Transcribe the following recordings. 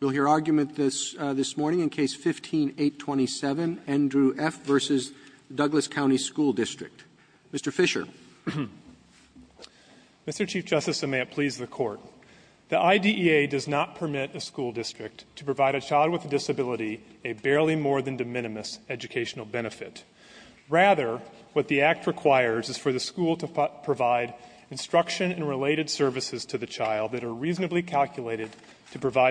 We'll hear argument this morning in Case No. 15-827, Andrew F. v. Douglas County School District. Mr. Fisher. Mr. Chief Justice, and may it please the Court, the IDEA does not permit a school district to provide a child with a disability a barely more than de minimis educational benefit. Rather, what the Act requires is for the school to provide instruction and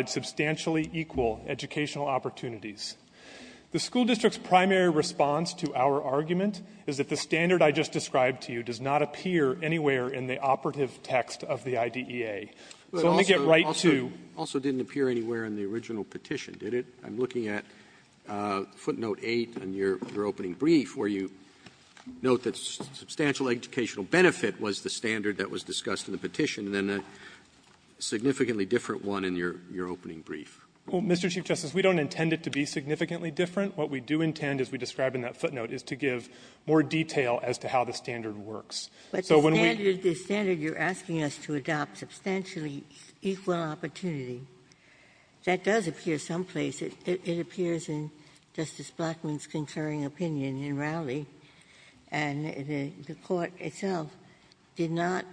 substantially equal educational opportunities. The school district's primary response to our argument is that the standard I just described to you does not appear anywhere in the operative text of the IDEA. So let me get right to you. Roberts. It also didn't appear anywhere in the original petition, did it? I'm looking at footnote 8 in your opening brief where you note that substantial educational benefit was the standard that was discussed in the petition, and then a significantly different one in your opening brief. Well, Mr. Chief Justice, we don't intend it to be significantly different. What we do intend, as we describe in that footnote, is to give more detail as to how the standard works. So when we ---- But the standard you're asking us to adopt, substantially equal opportunity, that does appear someplace. It appears in Justice Blackmun's concurring opinion in Rowley, and the Court itself did not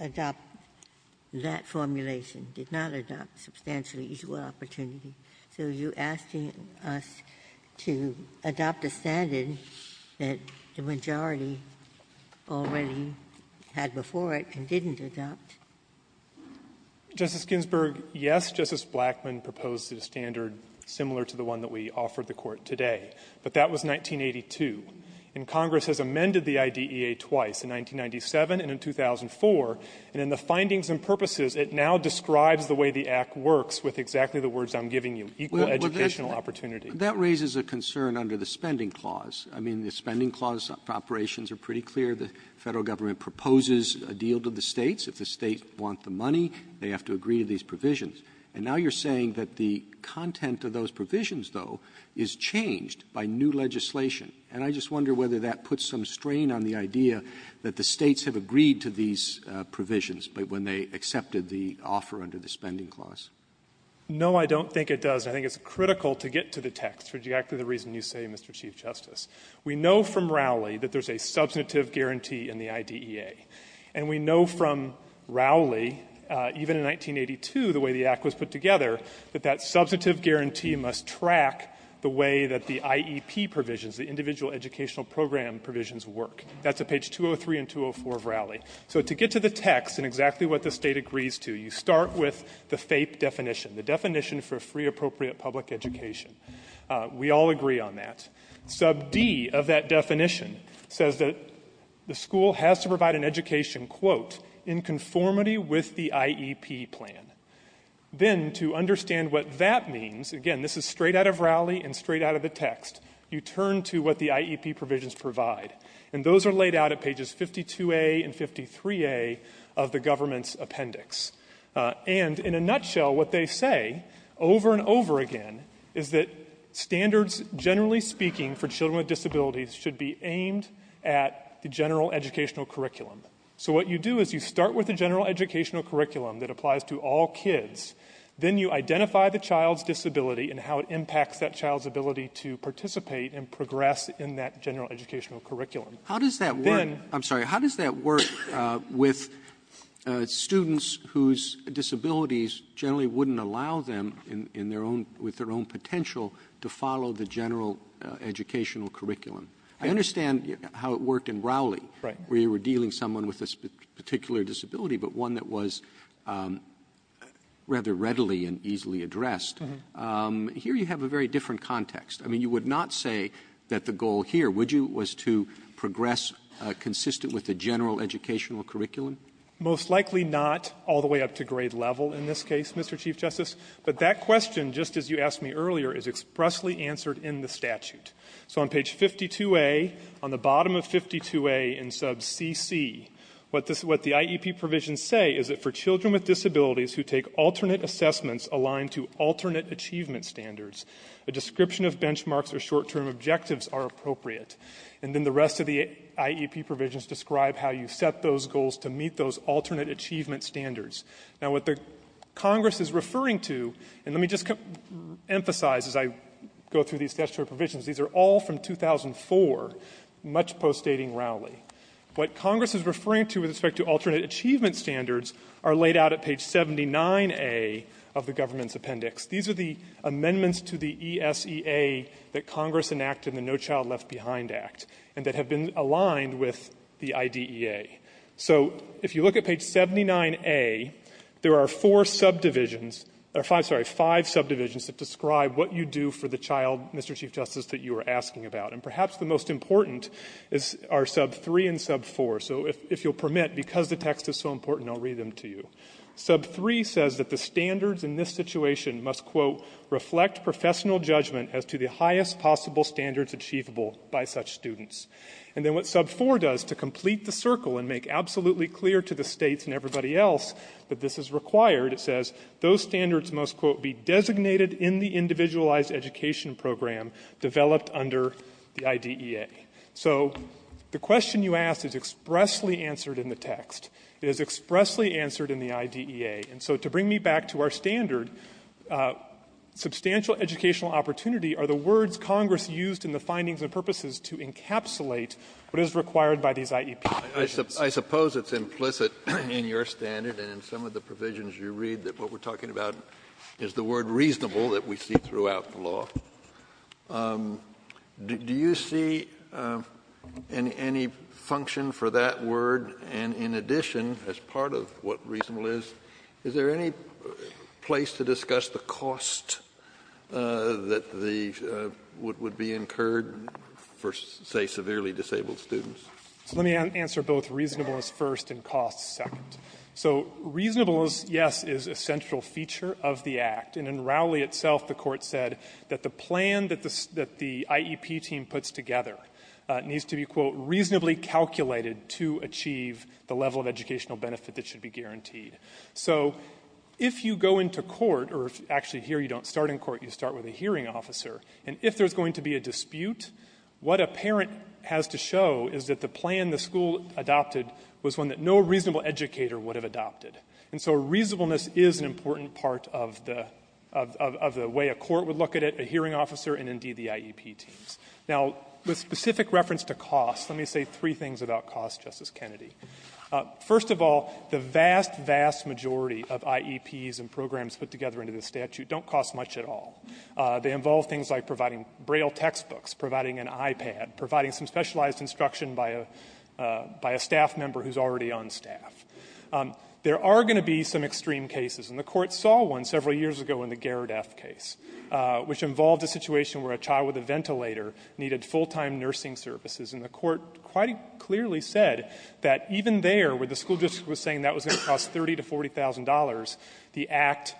adopt that formulation, did not adopt substantially equal opportunity. So you're asking us to adopt a standard that the majority already had before it and didn't adopt. Justice Ginsburg, yes, Justice Blackmun proposed a standard similar to the one that we offered the Court today, but that was 1982. And Congress has amended the IDEA twice, in 1997 and in 2004. And in the findings and purposes, it now describes the way the Act works with exactly the words I'm giving you, equal educational opportunity. That raises a concern under the Spending Clause. I mean, the Spending Clause operations are pretty clear. The Federal government proposes a deal to the States. If the States want the money, they have to agree to these provisions. And now you're saying that the content of those provisions, though, is changed by new legislation. And I just wonder whether that puts some strain on the idea that the States have agreed to these provisions when they accepted the offer under the Spending Clause. No, I don't think it does. I think it's critical to get to the text for exactly the reason you say, Mr. Chief Justice. We know from Rowley that there's a substantive guarantee in the IDEA. And we know from Rowley, even in 1982, the way the Act was put together, that that substantive guarantee must track the way that the IEP provisions, the individual educational program provisions, work. That's at page 203 and 204 of Rowley. So to get to the text and exactly what the State agrees to, you start with the FAPE definition, the definition for free appropriate public education. We all agree on that. Sub D of that definition says that the school has to provide an education, quote, in conformity with the IEP plan. Then to understand what that means, again, this is straight out of Rowley and straight out of the text, you turn to what the IEP provisions provide. And those are laid out at pages 52A and 53A of the government's appendix. And in a nutshell, what they say, over and over again, is that standards, generally speaking, for children with disabilities should be aimed at the general educational curriculum. So what you do is you start with the general educational curriculum that applies to all kids. Then you identify the child's disability and how it impacts that child's ability to participate and progress in that general educational curriculum. How does that work? I'm sorry, how does that work with students whose disabilities generally wouldn't allow them with their own potential to follow the general educational curriculum? I understand how it worked in Rowley, where you were dealing with someone with a particular disability, but one that was rather readily and easily addressed. Here you have a very different context. I mean, you would not say that the goal here was to progress consistent with the general educational curriculum? Most likely not, all the way up to grade level in this case, Mr. Chief Justice. But that question, just as you asked me earlier, is expressly answered in the statute. So on page 52A, on the bottom of 52A in sub CC, what the IEP provisions say is that for children with disabilities who take alternate assessments aligned to alternate achievement standards, a description of benchmarks or short-term objectives are appropriate. And then the rest of the IEP provisions describe how you set those goals to meet those alternate achievement standards. Now what the Congress is referring to, and let me just emphasize as I go through these statutory provisions, these are all from 2004, much post-dating Rowley. What Congress is referring to with respect to alternate achievement standards are laid out at page 79A of the government's appendix. These are the amendments to the ESEA that Congress enacted and the No Child Left Behind Act, and that have been aligned with the IDEA. So if you look at page 79A, there are four subdivisions or five, sorry, five subdivisions that describe what you do for the child, Mr. Chief Justice, that you are asking about. And perhaps the most important are sub 3 and sub 4. So if you'll permit, because the text is so important, I'll read them to you. Sub 3 says that the standards in this situation must, quote, reflect professional judgment as to the highest possible standards achievable by such students. And then what sub 4 does to complete the circle and make absolutely clear to the States and everybody else that this is required, it says those standards must, quote, be designated in the individualized education program developed under the IDEA. So the question you asked is expressly answered in the text. It is expressly answered in the IDEA. And so to bring me back to our standard, substantial educational opportunity are the words Congress used in the findings and purposes to encapsulate what is required by these IEP provisions. Kennedy, I suppose it's implicit in your standard and in some of the provisions you read that what we're talking about is the word reasonable that we see throughout the law. Do you see any function for that word? And in addition, as part of what reasonable is, is there any place to discuss the cost that the --" would be incurred for, say, severely disabled students? Fisherman. Fisherman. So let me answer both reasonableness first and cost second. So reasonableness, yes, is a central feature of the Act. And in Rowley itself, the Court said that the plan that the IEP team puts together needs to be, quote, reasonably calculated to achieve the level of educational benefit that should be guaranteed. So if you go into court, or actually here you don't start in court, you start with a hearing officer, and if there's going to be a dispute, what a parent has to show is that the plan the school adopted was one that no reasonable educator would have adopted. And so reasonableness is an important part of the way a court would look at it, a hearing officer, and, indeed, the IEP teams. Now, with specific reference to cost, let me say three things about cost, Justice Kennedy. First of all, the vast, vast majority of IEPs and programs put together under this statute don't cost much at all. They involve things like providing Braille textbooks, providing an iPad, providing some specialized instruction by a staff member who's already on staff. There are going to be some extreme cases, and the Court saw one several years ago in the Gerrard F. case, which involved a situation where a child with a ventilator needed full-time nursing services. And the Court quite clearly said that even there, where the school district was saying that was going to cost $30,000 to $40,000, the Act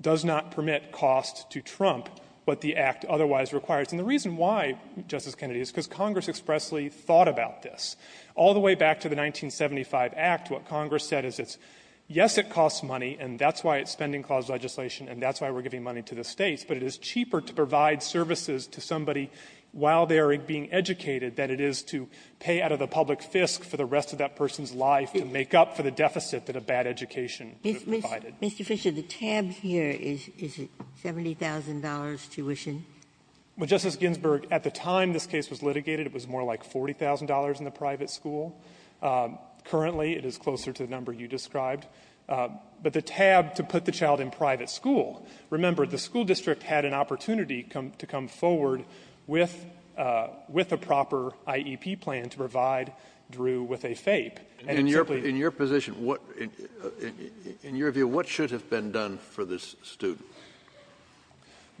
does not permit cost to trump what the Act otherwise requires. And the reason why, Justice Kennedy, is because Congress expressly thought about this. All the way back to the 1975 Act, what Congress said is it's, yes, it costs money, and that's why it's Spending Clause legislation, and that's why we're giving money to the States, but it is cheaper to provide services to somebody while they are being educated than it is to pay out of the public fisc for the rest of that person's life to make up for the deficit that a bad education provided. Ginsburg. Mr. Fisher, the tab here, is it $70,000 tuition? Well, Justice Ginsburg, at the time this case was litigated, it was more like $40,000 in the private school. Currently, it is closer to the number you described. But the tab to put the child in private school, remember, the school district had an opportunity to come forward with a proper IEP plan to provide Drew with a FAPE. And it simply was not. In your position, in your view, what should have been done for this student?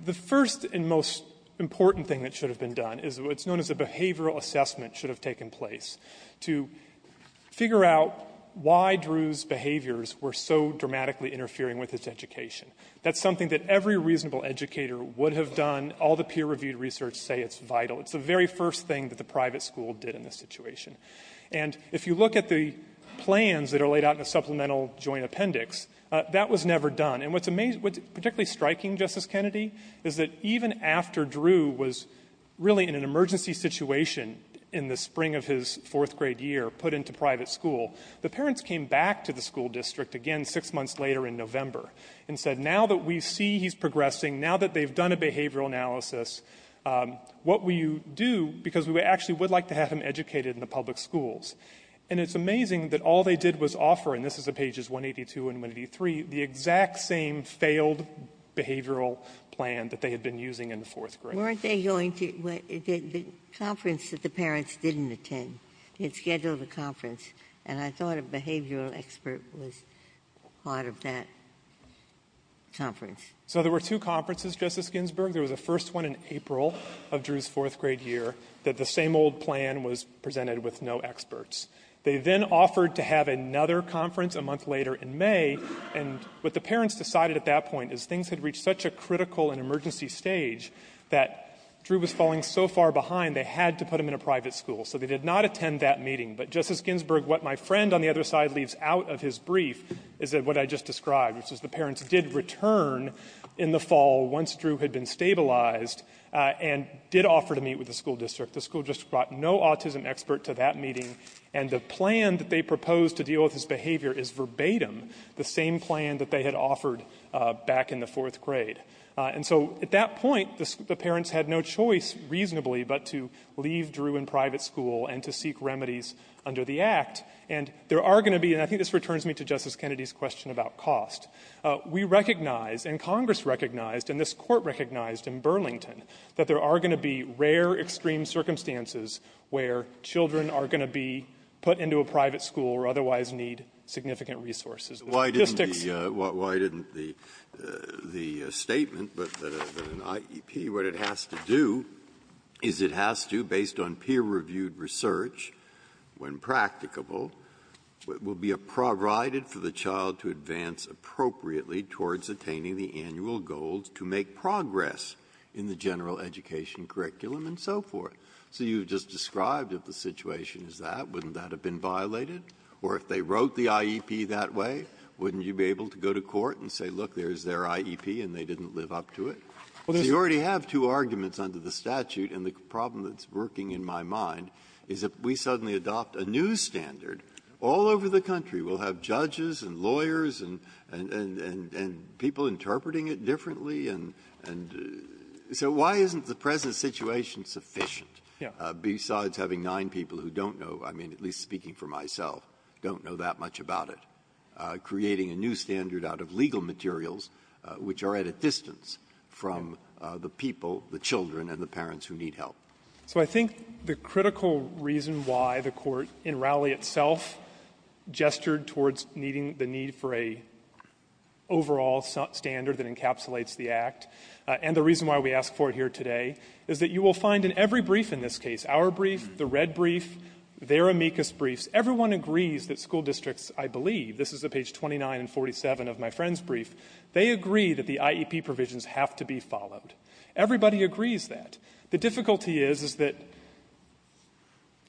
The first and most important thing that should have been done is what's known as a behavioral assessment should have taken place to figure out why Drew's behaviors were so dramatically interfering with his education. That's something that every reasonable educator would have done. All the peer-reviewed research say it's vital. It's the very first thing that the private school did in this situation. And if you look at the plans that are laid out in the supplemental joint appendix, that was never done. And what's particularly striking, Justice Kennedy, is that even after Drew was really in an emergency situation in the spring of his fourth-grade year, put into private school, the parents came back to the school district again six months later in November and said, now that we see he's progressing, now that they've done a behavioral analysis, what will you do? Because we actually would like to have him educated in the public schools. And it's amazing that all they did was offer, and this is at pages 182 and 183, the exact same failed behavioral plan that they had been using in the fourth grade. Weren't they going to the conference that the parents didn't attend? They had scheduled a conference, and I thought a behavioral expert was part of that conference. So there were two conferences, Justice Ginsburg. There was a first one in April of Drew's fourth-grade year that the same old plan was presented with no experts. They then offered to have another conference a month later in May, and what the parents decided at that point is things had reached such a critical and emergency stage that Drew was falling so far behind, they had to put him in a private school. So they did not attend that meeting, but, Justice Ginsburg, what my friend on the other side leaves out of his brief is what I just described, which is the parents did return in the fall, once Drew had been stabilized, and did offer to meet with the school district. The school district brought no autism expert to that meeting, and the plan that they had offered back in the fourth grade. And so at that point, the parents had no choice, reasonably, but to leave Drew in private school and to seek remedies under the Act. And there are going to be, and I think this returns me to Justice Kennedy's question about cost. We recognize, and Congress recognized, and this Court recognized in Burlington that there are going to be rare, extreme circumstances where children are going to be put into a private school or otherwise need significant resources. The statistics ---- Breyer. Why didn't the statement that an IEP, what it has to do, is it has to, based on peer-reviewed research, when practicable, will be provided for the child to advance appropriately towards attaining the annual goals to make progress in the general education curriculum and so forth. So you've just described if the situation is that, wouldn't that have been violated? Or if they wrote the IEP that way, wouldn't you be able to go to court and say, look, there's their IEP, and they didn't live up to it? So you already have two arguments under the statute. And the problem that's working in my mind is if we suddenly adopt a new standard, all over the country we'll have judges and lawyers and people interpreting it differently. And so why isn't the present situation sufficient? Besides having nine people who don't know, I mean, at least speaking for myself, don't know that much about it, creating a new standard out of legal materials which are at a distance from the people, the children, and the parents who need help. Fisherman. So I think the critical reason why the Court in Rowley itself gestured towards meeting the need for a overall standard that encapsulates the Act, and the reason why we ask for it here today, is that you will find in every brief in this case, our brief, the red brief, their amicus briefs, everyone agrees that school districts, I believe, this is at page 29 and 47 of my friend's brief, they agree that the IEP provisions have to be followed. Everybody agrees that. The difficulty is, is that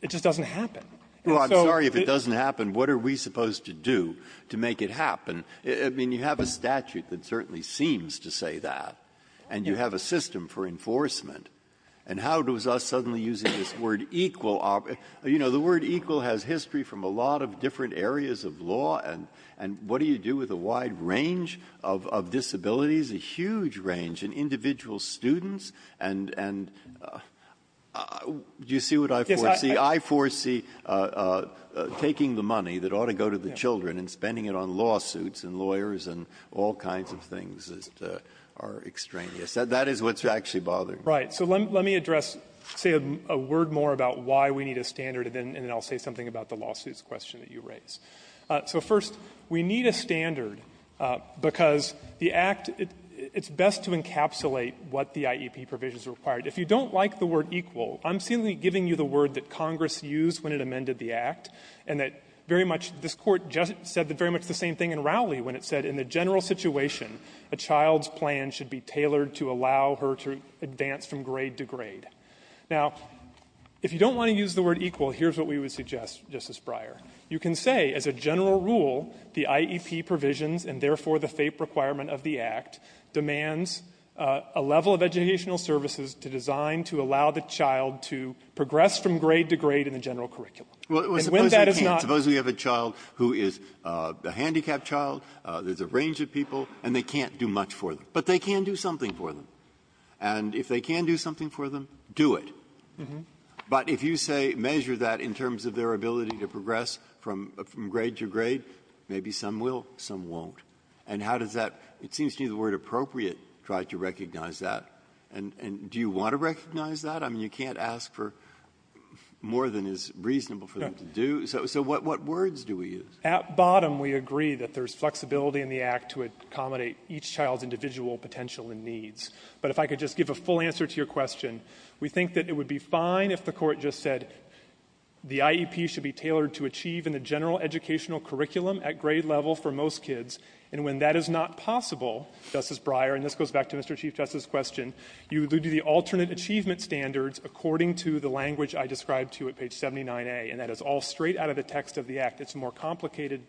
it just doesn't happen. And so the ---- Breyer. Well, I'm sorry if it doesn't happen. What are we supposed to do to make it happen? I mean, you have a statute that certainly seems to say that. And you have a system for enforcement. And how does us suddenly using this word equal operate? You know, the word equal has history from a lot of different areas of law. And what do you do with a wide range of disabilities, a huge range, and individual students, and do you see what I foresee? I foresee taking the money that ought to go to the children and spending it on lawsuits and lawyers and all kinds of things that are extraneous. That is what's actually bothering me. Fisherman. Right. So let me address, say, a word more about why we need a standard, and then I'll say something about the lawsuits question that you raised. So first, we need a standard because the Act, it's best to encapsulate what the IEP provisions require. If you don't like the word equal, I'm seemingly giving you the word that Congress used when it amended the Act, and that very much this Court just said that very much the same thing in Rowley when it said in the general situation, a child's plan should be tailored to allow her to advance from grade to grade. Now, if you don't want to use the word equal, here's what we would suggest, Justice Breyer. You can say, as a general rule, the IEP provisions, and therefore the FAPE requirement of the Act, demands a level of educational services to design to allow the child to progress from grade to grade in the general curriculum. And when that is not the case of a child who is a handicapped child, there's a range of people, and they can't do much for them. But they can do something for them. And if they can do something for them, do it. But if you say, measure that in terms of their ability to progress from grade to grade, maybe some will, some won't. And how does that seems to be the word appropriate, try to recognize that. And do you want to recognize that? I mean, you can't ask for more than is reasonable for them to do. So what words do we use? At bottom, we agree that there's flexibility in the Act to accommodate each child's individual potential and needs. But if I could just give a full answer to your question, we think that it would be fine if the court just said, the IEP should be tailored to achieve in the general educational curriculum at grade level for most kids. And when that is not possible, Justice Breyer, and this goes back to Mr. Chief Justice's question, you would do the alternate achievement standards according to the language I described to you at page 79A, and that is all straight out of the text of the Act. It's a more complicated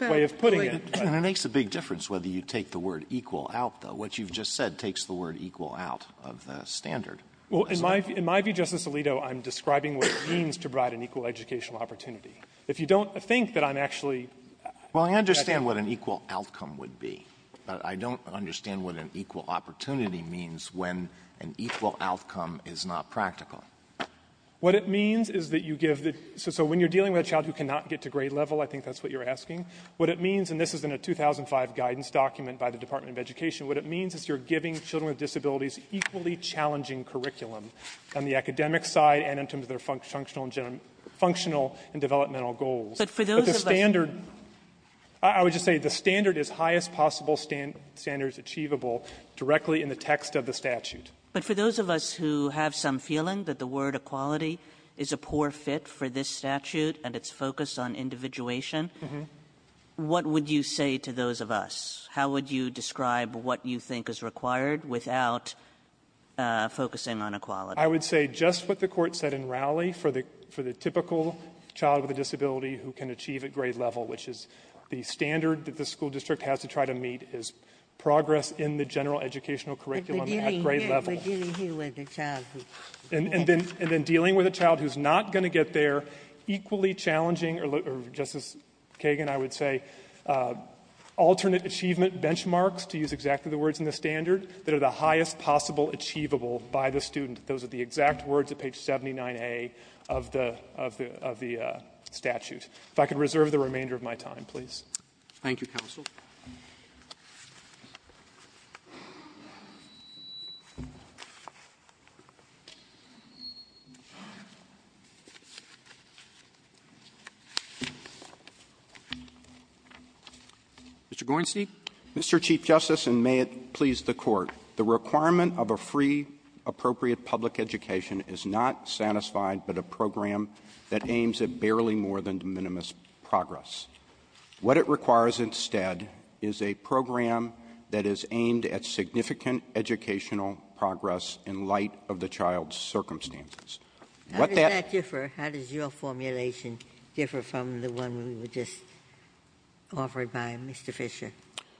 way of putting it. Sotomayor, and it makes a big difference whether you take the word equal out, though. What you've just said takes the word equal out of the standard. Well, in my view, Justice Alito, I'm describing what it means to provide an equal educational opportunity. If you don't think that I'm actually going to do that. Well, I understand what an equal outcome would be. But I don't understand what an equal opportunity means when an equal outcome is not practical. What it means is that you give the so when you're dealing with a child who cannot get to grade level, I think that's what you're asking. What it means, and this is in a 2005 guidance document by the Department of Education, what it means is you're giving children with disabilities equally challenging curriculum on the academic side and in terms of their functional and general – functional and developmental goals. But for those of us But the standard – I would just say the standard is highest possible standards achievable directly in the text of the statute. But for those of us who have some feeling that the word equality is a poor fit for this statute and its focus on individuation, what would you say to those of us? How would you describe what you think is required without focusing on equality? I would say just what the Court said in Rowley for the typical child with a disability who can achieve at grade level, which is the standard that the school district has to try to meet, is progress in the general educational curriculum at grade level. Ginsburg. But we're dealing here with a child who's not going to get there. And then dealing with a child who's not going to get there, equally challenging or, Justice Kagan, I would say alternate achievement benchmarks, to use exactly the words in the standard, that are the highest possible achievable by the student. Those are the exact words at page 79A of the statute. If I could reserve the remainder of my time, please. Thank you, Counsel. Mr. Gorenstein. Mr. Chief Justice, and may it please the Court. The requirement of a free, appropriate public education is not satisfied but a program that aims at barely more than minimalist progress. What it requires instead is a program that is aimed at significant educational progress in light of the child's circumstances. What that- How does that differ? How does your formulation differ from the one we were just offered by Mr. Fisher?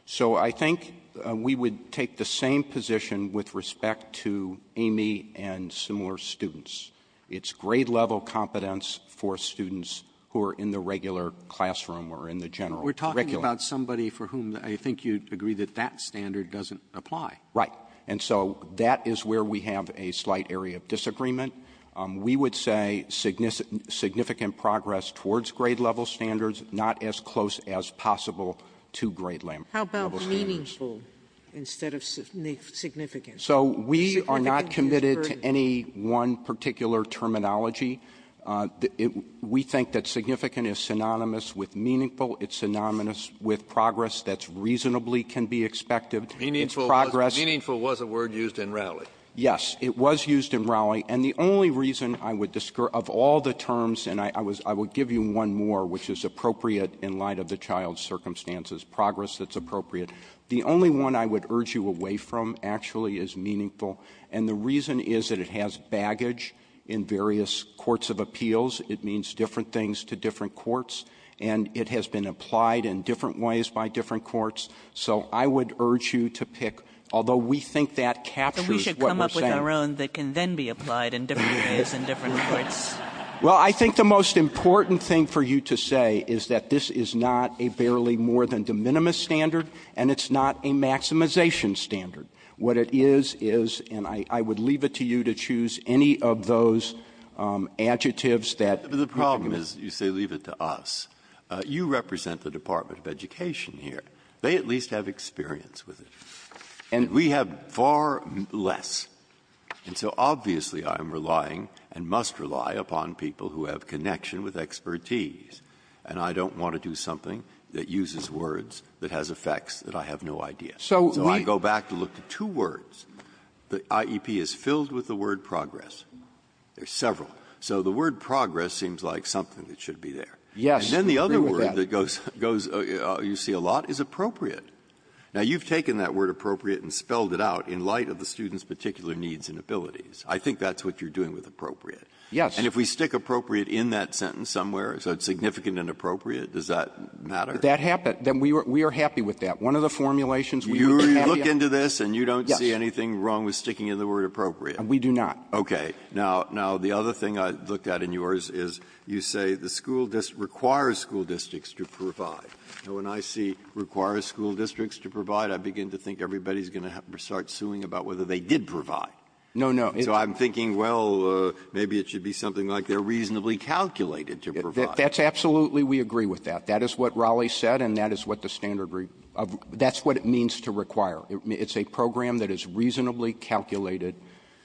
So I think we would take the same position with respect to Amy and similar students. It's grade level competence for students who are in the regular classroom or in the general curriculum. We're talking about somebody for whom I think you'd agree that that standard doesn't apply. Right. And so that is where we have a slight area of disagreement. We would say significant progress towards grade level standards, not as close as possible to grade level standards. How about meaningful instead of significant? So we are not committed to any one particular terminology. We think that significant is synonymous with meaningful. It's synonymous with progress that's reasonably can be expected. Meaningful was a word used in Raleigh. Yes, it was used in Raleigh. And the only reason I would, of all the terms, and I would give you one more, which is appropriate in light of the child's circumstances, progress that's appropriate. The only one I would urge you away from actually is meaningful. And the reason is that it has baggage in various courts of appeals. It means different things to different courts. And it has been applied in different ways by different courts. So I would urge you to pick, although we think that captures what we're saying. But we should come up with our own that can then be applied in different ways in different courts. Well, I think the most important thing for you to say is that this is not a barely more than de minimis standard. And it's not a maximization standard. What it is, is, and I would leave it to you to choose any of those adjectives that- The problem is, you say leave it to us. You represent the Department of Education here. They at least have experience with it. And we have far less. And so obviously I am relying and must rely upon people who have connection with expertise. And I don't want to do something that uses words that has effects that I have no idea. So I go back to look to two words. The IEP is filled with the word progress. There are several. So the word progress seems like something that should be there. Yes. And then the other word that goes, you see a lot, is appropriate. Now, you've taken that word appropriate and spelled it out in light of the student's particular needs and abilities. I think that's what you're doing with appropriate. Yes. And if we stick appropriate in that sentence somewhere, so it's significant and appropriate, does that matter? That happened. We are happy with that. One of the formulations we were happy about- You look into this and you don't see anything wrong with sticking in the word appropriate. We do not. Okay. Now, the other thing I looked at in yours is you say the school district requires school districts to provide. When I see requires school districts to provide, I begin to think everybody's going to start suing about whether they did provide. No, no. So I'm thinking, well, maybe it should be something like they're reasonably calculated to provide. That's absolutely, we agree with that. That is what Raleigh said, and that is what the standard, that's what it means to require. It's a program that is reasonably calculated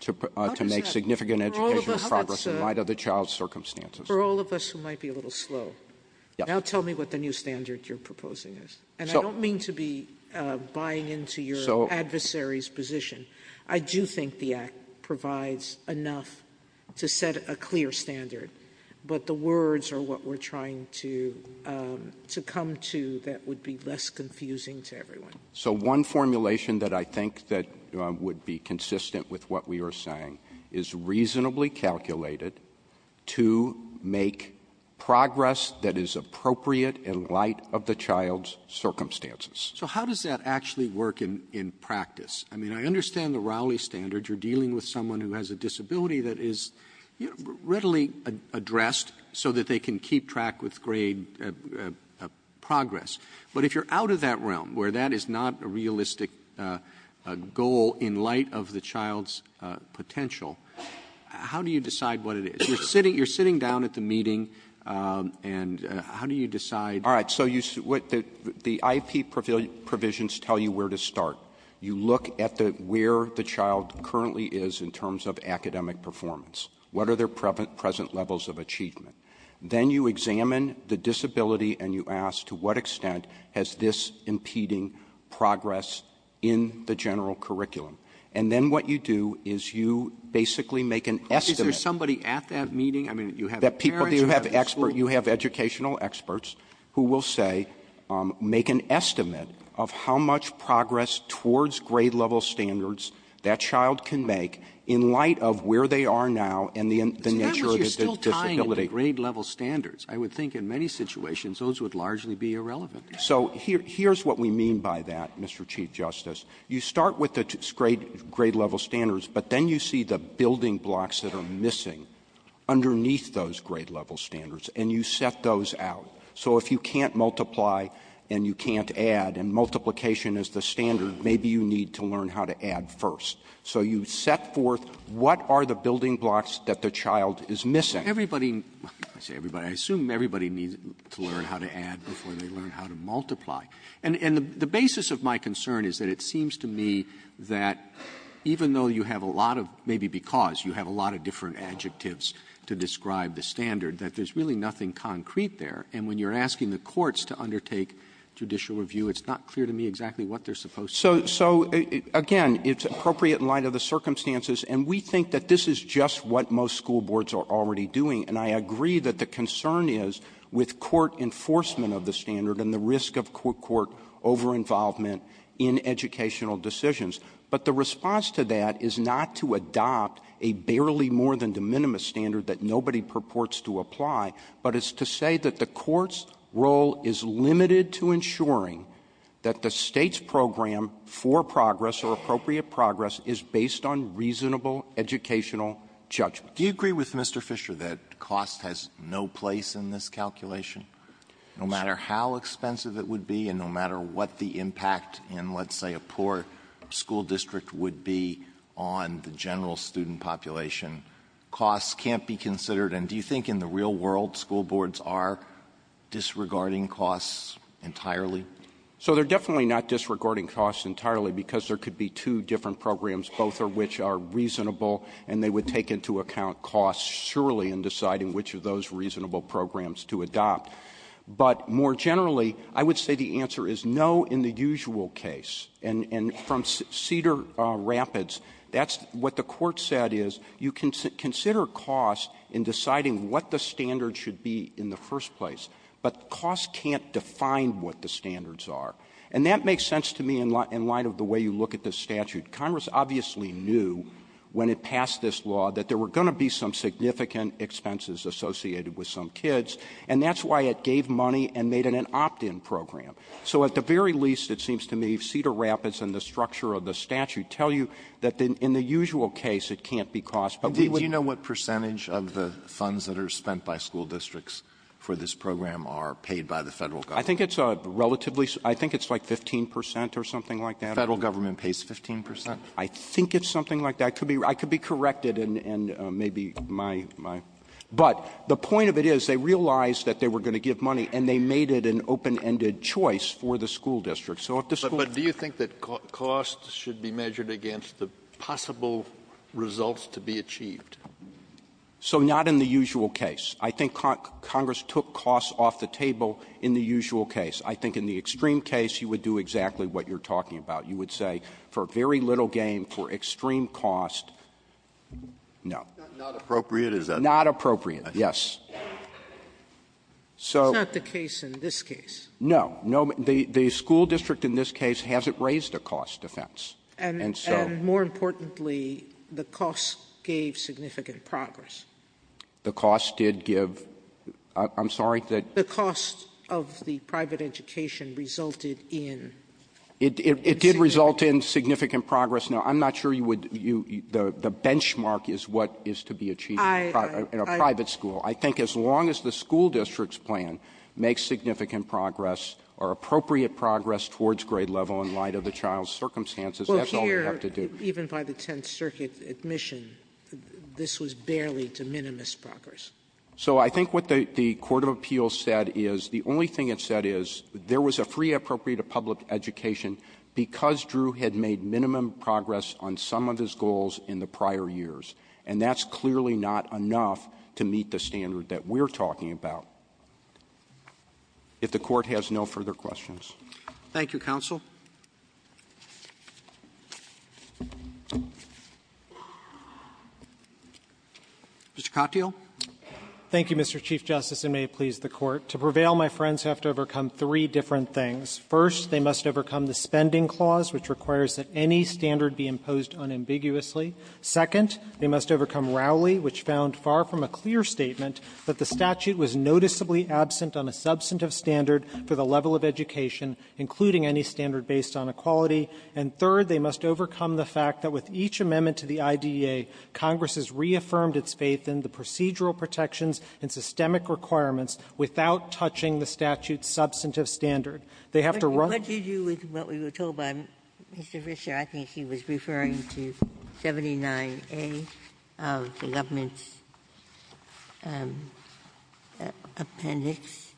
to make significant educational progress in light of the child's circumstances. For all of us who might be a little slow. Now tell me what the new standard you're proposing is. And I don't mean to be buying into your adversary's position. I do think the act provides enough to set a clear standard. But the words are what we're trying to come to that would be less confusing to everyone. So one formulation that I think that would be consistent with what we are saying is reasonably calculated to make progress that is appropriate in light of the child's circumstances. So how does that actually work in practice? I mean, I understand the Raleigh standard. You're dealing with someone who has a disability that is readily addressed so that they can keep track with grade progress. But if you're out of that realm, where that is not a realistic goal in light of the child's potential, how do you decide what it is? You're sitting down at the meeting, and how do you decide? All right, so the IP provisions tell you where to start. You look at where the child currently is in terms of academic performance. What are their present levels of achievement? Then you examine the disability and you ask to what extent has this impeding progress in the general curriculum. And then what you do is you basically make an estimate. Is there somebody at that meeting? I mean, you have parents, you have the school. You have educational experts who will say, make an estimate of how much progress towards grade level standards that child can make in light of where they are now and the nature of the disability. Grade level standards. I would think in many situations, those would largely be irrelevant. So here's what we mean by that, Mr. Chief Justice. You start with the grade level standards, but then you see the building blocks that are missing underneath those grade level standards, and you set those out. So if you can't multiply and you can't add, and multiplication is the standard, maybe you need to learn how to add first. So you set forth what are the building blocks that the child is missing. Everybody, I say everybody, I assume everybody needs to learn how to add before they learn how to multiply. And the basis of my concern is that it seems to me that even though you have a lot of, maybe because you have a lot of different adjectives to describe the standard, that there's really nothing concrete there. And when you're asking the courts to undertake judicial review, it's not clear to me exactly what they're supposed to do. So again, it's appropriate in light of the circumstances, and we think that this is just what most school boards are already doing. And I agree that the concern is with court enforcement of the standard and the risk of court over-involvement in educational decisions. But the response to that is not to adopt a barely more than de minimis standard that nobody purports to apply. But it's to say that the court's role is limited to ensuring that the state's program for progress or appropriate progress is based on reasonable educational judgment. Do you agree with Mr. Fisher that cost has no place in this calculation? No matter how expensive it would be and no matter what the impact in let's say a poor school district would be on the general student population, costs can't be considered. And do you think in the real world, school boards are disregarding costs entirely? So they're definitely not disregarding costs entirely because there could be two different programs, both of which are reasonable. And they would take into account costs surely in deciding which of those reasonable programs to adopt. But more generally, I would say the answer is no in the usual case. And from Cedar Rapids, that's what the court said is, you can consider cost in deciding what the standard should be in the first place. But cost can't define what the standards are. And that makes sense to me in light of the way you look at this statute. Congress obviously knew when it passed this law that there were going to be some significant expenses associated with some kids. And that's why it gave money and made it an opt-in program. So at the very least, it seems to me, Cedar Rapids and the structure of the statute tell you that in the usual case, it can't be cost. But we wouldn't ---- Alito, do you know what percentage of the funds that are spent by school districts for this program are paid by the Federal government? I think it's a relatively ---- I think it's like 15 percent or something like that. The Federal government pays 15 percent? I think it's something like that. I could be ---- I could be corrected and maybe my ---- but the point of it is, they realized that they were going to give money, and they made it an open-ended choice for the school district. So if the school ---- But do you think that cost should be measured against the possible results to be achieved? So not in the usual case. I think Congress took cost off the table in the usual case. I think in the extreme case, you would do exactly what you're talking about. You would say for very little gain, for extreme cost, no. Not appropriate? Is that ---- Not appropriate, yes. So ---- It's not the case in this case. No. No. The school district in this case hasn't raised a cost offense. And so ---- And more importantly, the cost gave significant progress. The cost did give ---- I'm sorry, that ---- The cost of the private education resulted in ---- It did result in significant progress. Now, I'm not sure you would ---- the benchmark is what is to be achieved in a private school. I think as long as the school district's plan makes significant progress or appropriate progress towards grade level in light of the child's circumstances, that's all we have to do. Well, here, even by the Tenth Circuit admission, this was barely to minimum progress. So I think what the court of appeals said is the only thing it said is there was a free appropriate of public education because Drew had made minimum progress on some of his goals in the prior years. And that's clearly not enough to meet the standard that we're talking about. If the court has no further questions. Thank you, counsel. Mr. Katyal. Thank you, Mr. Chief Justice, and may it please the Court. To prevail, my friends have to overcome three different things. First, they must overcome the spending clause, which requires that any standard be imposed unambiguously. Second, they must overcome Rowley, which found far from a clear statement that the statute was noticeably absent on a substantive standard for the level of education, including any standard based on equality. And third, they must overcome the fact that with each amendment to the IDEA, Congress has reaffirmed its faith in the procedural protections and systemic requirements without touching the statute's substantive standard. They have to run the ---- Ginsburg. With what we were told by Mr. Fischer, I think he was referring to 79A of the government's appendix.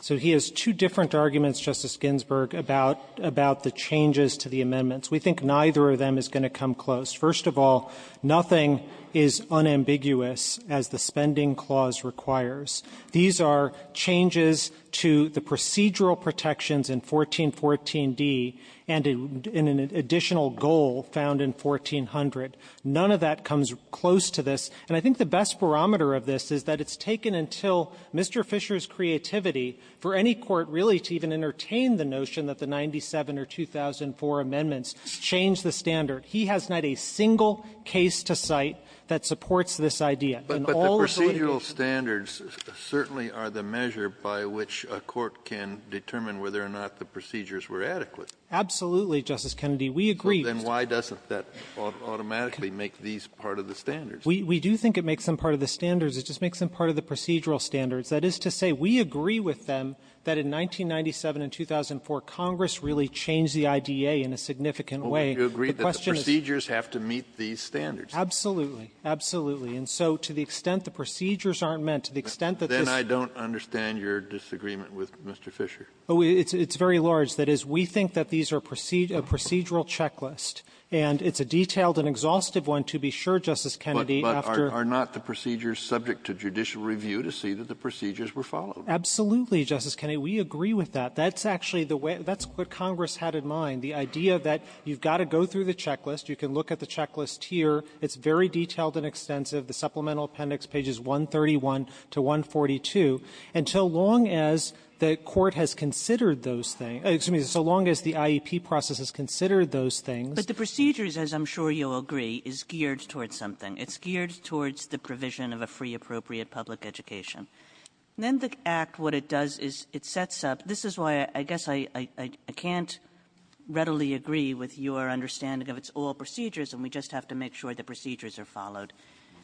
So he has two different arguments, Justice Ginsburg, about the changes to the amendments. We think neither of them is going to come close. First of all, nothing is unambiguous as the spending clause requires. These are changes to the procedural protections in 1414d and in an additional goal found in 1400. None of that comes close to this. And I think the best barometer of this is that it's taken until Mr. Fischer's creativity for any court really to even entertain the notion that the 97 or 2004 amendments change the standard. He has not a single case to cite that supports this idea. Kennedy, we agree that the procedural standards certainly are the measure by which a court can determine whether or not the procedures were adequate. Absolutely, Justice Kennedy. We agree. Then why doesn't that automatically make these part of the standards? We do think it makes them part of the standards. It just makes them part of the procedural standards. That is to say we agree with them that in 1997 and 2004, Congress really changed the IDEA in a significant way. You agree that the procedures have to meet these standards. Absolutely. Absolutely. And so to the extent the procedures aren't met, to the extent that this — Then I don't understand your disagreement with Mr. Fischer. Oh, it's very large. That is, we think that these are procedural checklist, and it's a detailed and exhaustive one to be sure, Justice Kennedy, after — But are not the procedures subject to judicial review to see that the procedures were followed? Absolutely, Justice Kennedy. We agree with that. That's actually the way — that's what Congress had in mind, the idea that you've got to go through the checklist. You can look at the checklist here. It's very detailed and extensive. The Supplemental Appendix, pages 131 to 142. And so long as the Court has considered those things — excuse me, so long as the IEP process has considered those things — But the procedures, as I'm sure you'll agree, is geared towards something. It's geared towards the provision of a free, appropriate public education. And then the Act, what it does is it sets up — this is why I guess I can't readily agree with your understanding of it's all procedures, and we just have to make sure that the procedures are followed,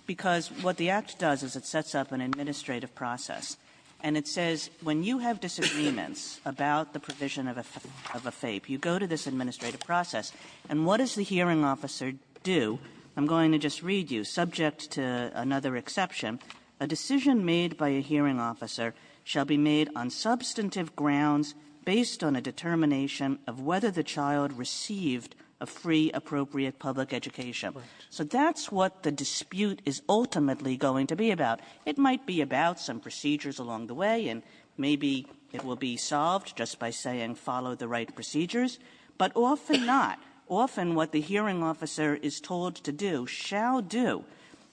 because what the Act does is it sets up an administrative process, and it says when you have disagreements about the provision of a — of a FAPE, you go to this administrative process, and what does the hearing officer do? I'm going to just read you, subject to another exception. A decision made by a hearing officer shall be made on substantive grounds based on a determination of whether the child received a free, appropriate public education. So that's what the dispute is ultimately going to be about. It might be about some procedures along the way, and maybe it will be solved just by saying follow the right procedures. But often not. Often what the hearing officer is told to do, shall do,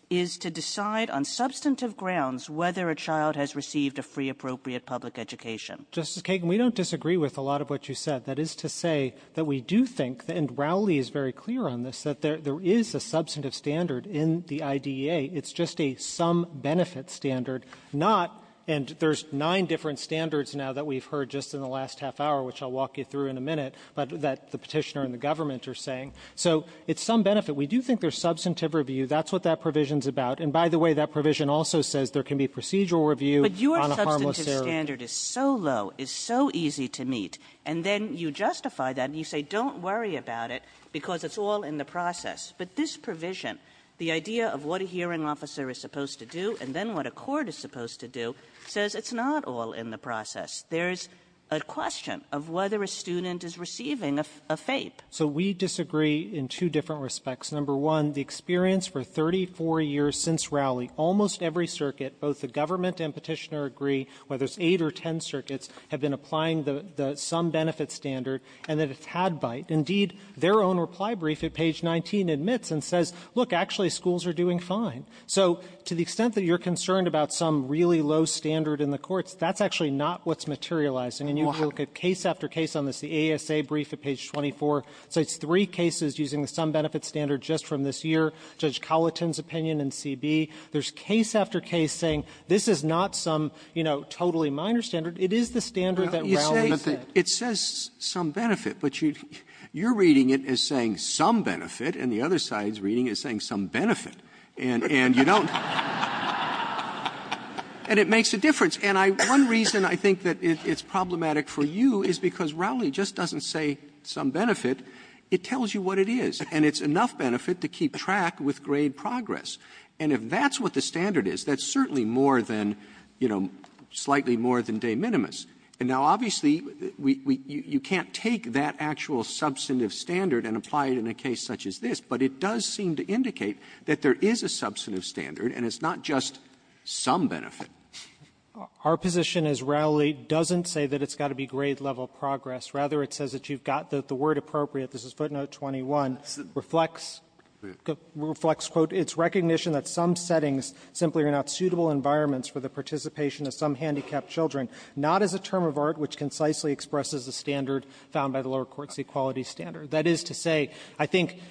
is to decide on substantive grounds whether a child has received a free, appropriate public education. Justice Kagan, we don't disagree with a lot of what you said. That is to say that we do think — and Rowley is very clear on this — that there is a substantive standard in the IDEA. It's just a some-benefit standard, not — and there's nine different standards now that we've heard just in the last half hour, which I'll walk you through in a minute, but that the Petitioner and the government are saying. So it's some benefit. We do think there's substantive review. That's what that provision is about. And by the way, that provision also says there can be procedural review on a harmless error. Kagan. But your substantive standard is so low, is so easy to meet, and then you justify that, and you say don't worry about it because it's all in the process. But this provision, the idea of what a hearing officer is supposed to do, and then what a court is supposed to do, says it's not all in the process. There's a question of whether a student is receiving a — a FAPE. So we disagree in two different respects. Number one, the experience for 34 years since Rowley, almost every circuit, both the government and Petitioner agree, whether it's eight or ten circuits, have been applying the — the some-benefit standard, and that it's had bite. Indeed, their own reply brief at page 19 admits and says, look, actually, schools are doing fine. So to the extent that you're concerned about some really low standard in the courts, that's actually not what's materializing. And you look at case after case on this, the ASA brief at page 24, so it's three cases using the some-benefit standard just from this year, Judge Colliton's opinion in CB. There's case after case saying this is not some, you know, totally minor standard. It is the standard that Rowley said. Roberts It says some-benefit, but you're reading it as saying some-benefit, and the other side's reading it as saying some-benefit. And you don't — And it makes a difference. And I — one reason I think that it's problematic for you is because Rowley just doesn't say some-benefit. It tells you what it is. And it's enough benefit to keep track with grade progress. And if that's what the standard is, that's certainly more than, you know, slightly more than de minimis. And now, obviously, we — you can't take that actual substantive standard and apply it in a case such as this, but it does seem to indicate that there is a substantive standard, and it's not just some-benefit. Our position is Rowley doesn't say that it's got to be grade-level progress. Rather, it says that you've got the word appropriate. This is footnote 21, reflects — reflects, quote, it's recognition that some settings simply are not suitable environments for the participation of some handicapped children, not as a term of art which concisely expresses the standard found by the lower court's equality standard. That is to say, I think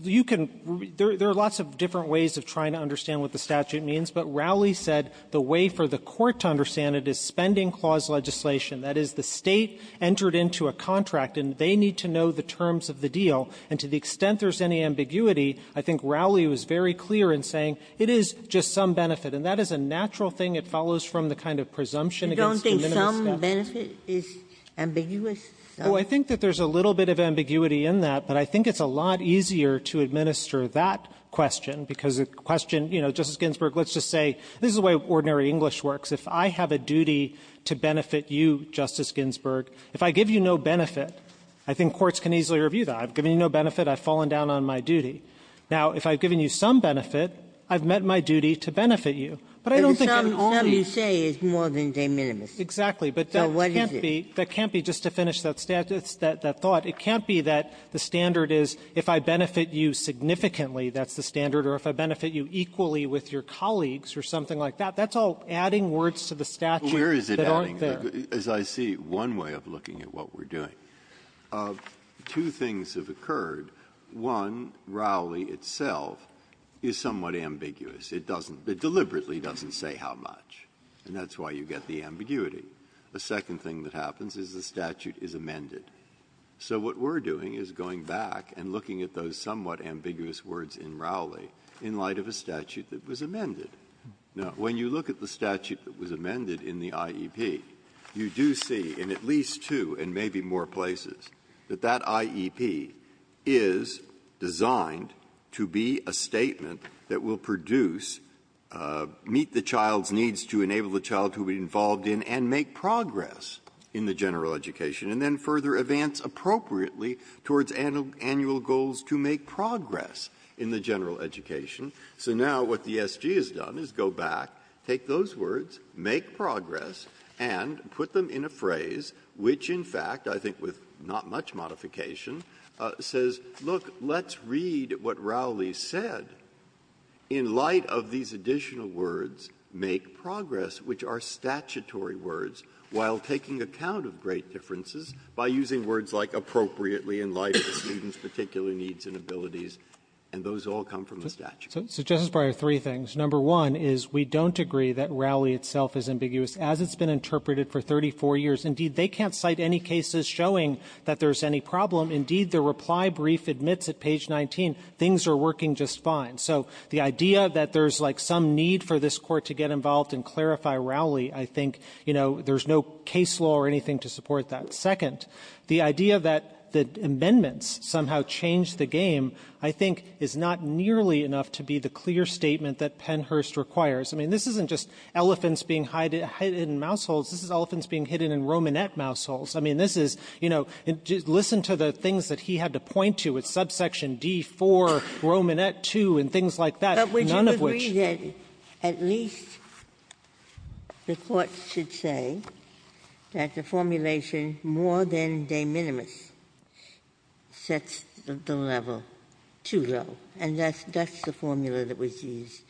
you can — there are lots of different ways of trying to understand what the statute means, but Rowley said the way for the court to understand it is spending clause legislation. That is, the State entered into a contract, and they need to know the terms of the deal. And to the extent there's any ambiguity, I think Rowley was very clear in saying it is just some-benefit. And that is a natural thing. It follows from the kind of presumption against conventional stuff. Ginsburg. You don't think some-benefit is ambiguous? Well, I think that there's a little bit of ambiguity in that, but I think it's a lot easier to administer that question, because the question, you know, Justice Ginsburg, let's just say, this is the way ordinary English works. If I have a duty to benefit you, Justice Ginsburg, if I give you no benefit, I think courts can easily review that. I've given you no benefit. I've fallen down on my duty. Now, if I've given you some benefit, I've met my duty to benefit you. But I don't think there's any other way to do it. But if something you say is more than de minimis. Exactly. But that can't be just to finish that thought. It can't be that the standard is if I benefit you significantly, that's the standard, or if I benefit you equally with your colleagues or something like that. That's all adding words to the statute that aren't there. Well, where is it adding? As I see, one way of looking at what we're doing, two things have occurred. One, Rowley itself is somewhat ambiguous. It doesn't, it deliberately doesn't say how much, and that's why you get the ambiguity. The second thing that happens is the statute is amended. So what we're doing is going back and looking at those somewhat ambiguous words in Rowley in light of a statute that was amended. Now, when you look at the statute that was amended in the IEP, you do see in at least two and three, that it is designed to be a statement that will produce, meet the child's needs to enable the child to be involved in, and make progress in the general education, and then further advance appropriately towards annual goals to make progress in the general education. So now what the SG has done is go back, take those words, make progress, and put them in a phrase, which in fact, I think with not much modification, says, look, let's read what Rowley said in light of these additional words, make progress, which are statutory words, while taking account of great differences by using words like appropriately in light of the student's particular needs and abilities. And those all come from the statute. Katyala, so Justice Breyer, three things. Number one is we don't agree that Rowley itself is ambiguous. As it's been interpreted for 34 years, indeed, they can't cite any cases showing that there's any problem. Indeed, the reply brief admits at page 19, things are working just fine. So the idea that there's like some need for this Court to get involved and clarify Rowley, I think, you know, there's no case law or anything to support that. Second, the idea that the amendments somehow change the game, I think, is not nearly enough to be the clear statement that Pennhurst requires. I mean, this isn't just elephants being hidden in mouse holes. This is elephants being hidden in Romanette mouse holes. I mean, this is, you know, listen to the things that he had to point to with subsection D-4, Romanette II, and things like that, none of which ---- Ginsburg But would you agree that at least the Court should say that the formulation more than de minimis sets the level too low? And that's the formula that was used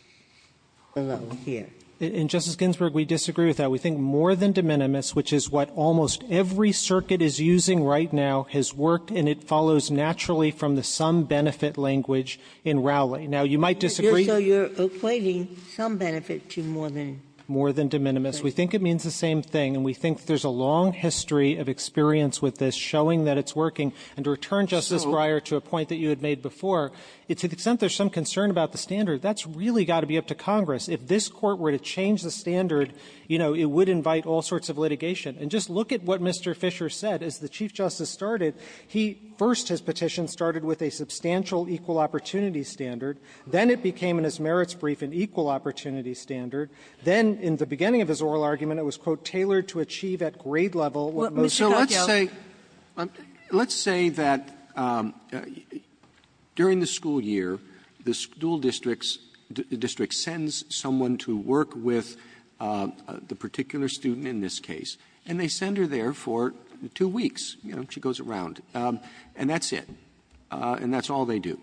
below here. Katyala, in Justice Ginsburg, we disagree with that. We think more than de minimis, which is what almost every circuit is using right now, has worked, and it follows naturally from the some-benefit language in Rowley. Now, you might disagree ---- Ginsburg So you're equating some benefit to more than? Katyala More than de minimis. We think it means the same thing. And we think there's a long history of experience with this showing that it's working. And to return, Justice Breyer, to a point that you had made before, it's to the extent there's some concern about the standard, that's really got to be up to Congress. If this Court were to change the standard, you know, it would invite all sorts of litigation. And just look at what Mr. Fisher said. As the Chief Justice started, he ---- first his petition started with a substantial equal-opportunity standard. Then it became in his merits brief an equal-opportunity standard. Then, in the beginning of his oral argument, it was, quote, tailored to achieve at grade level what most ---- Sotomayor Mr. Katyala So let's say ---- let's say that during the school year, the school districts sends someone to work with the particular student in this case. And they send her there for two weeks. You know, she goes around. And that's it. And that's all they do.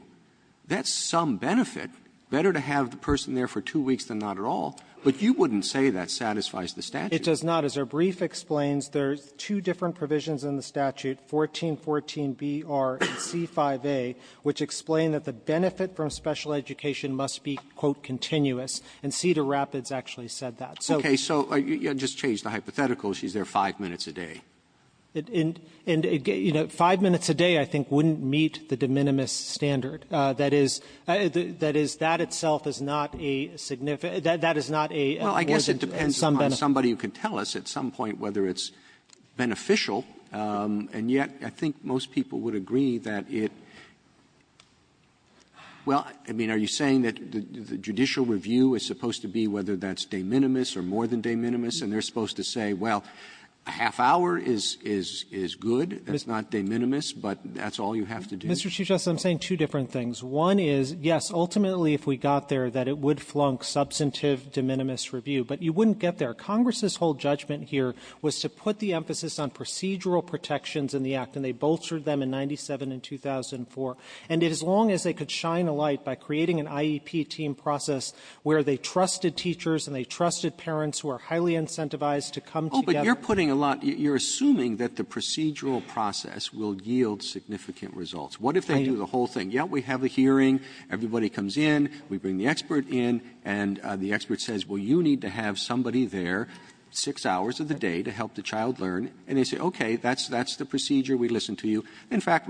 That's some benefit. Better to have the person there for two weeks than not at all. But you wouldn't say that satisfies the statute. Katyala It does not. As our brief explains, there's two different provisions in the statute, 1414B-R and C-5A, which explain that the benefit from special education must be, quote, continuous. And Cedar Rapids actually said that. So ---- Roberts Okay. So just change the hypothetical. She's there five minutes a day. Katyala And, you know, five minutes a day, I think, wouldn't meet the de minimis standard. That is ---- that is, that itself is not a significant ---- that is not a ---- Roberts Well, I guess it depends on somebody who can tell us at some point whether it's substantive de minimis review, that it ---- well, I mean, are you saying that the judicial review is supposed to be whether that's de minimis or more than de minimis, and they're supposed to say, well, a half-hour is good, that's not de minimis, but that's all you have to do? Katyala Mr. Chief Justice, I'm saying two different things. One is, yes, ultimately, if we got there, that it would flunk substantive de minimis review. But you wouldn't get there. Congress's whole judgment here was to put the emphasis on procedural protections in the act, and they bolstered them in 97 and 2004. And as long as they could shine a light by creating an IEP team process where they trusted teachers and they trusted parents who are highly incentivized to come together ---- Roberts Oh, but you're putting a lot ---- you're assuming that the procedural process will yield significant results. What if they do the whole thing? Yeah, we have a hearing, everybody comes in, we bring the expert in, and the expert In fact, we're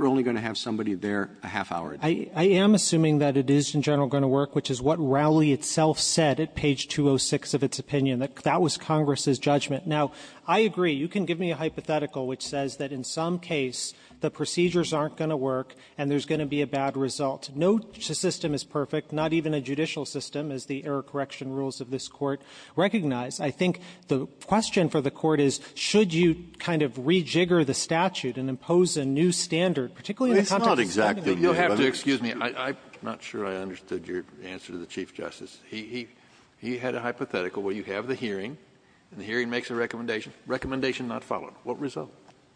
only going to have somebody there a half-hour. Katyala I am assuming that it is in general going to work, which is what Rowley itself said at page 206 of its opinion. That was Congress's judgment. Now, I agree. You can give me a hypothetical which says that in some case, the procedures aren't going to work and there's going to be a bad result. No system is perfect, not even a judicial system, as the error correction rules of this Court recognize. I think the question for the Court is, should you kind of rejigger the statute and impose a new standard, particularly in the context of this kind of a hearing? Kennedy You'll have to excuse me. I'm not sure I understood your answer to the Chief Justice. He had a hypothetical where you have the hearing, and the hearing makes a recommendation. Recommendation not followed. What result?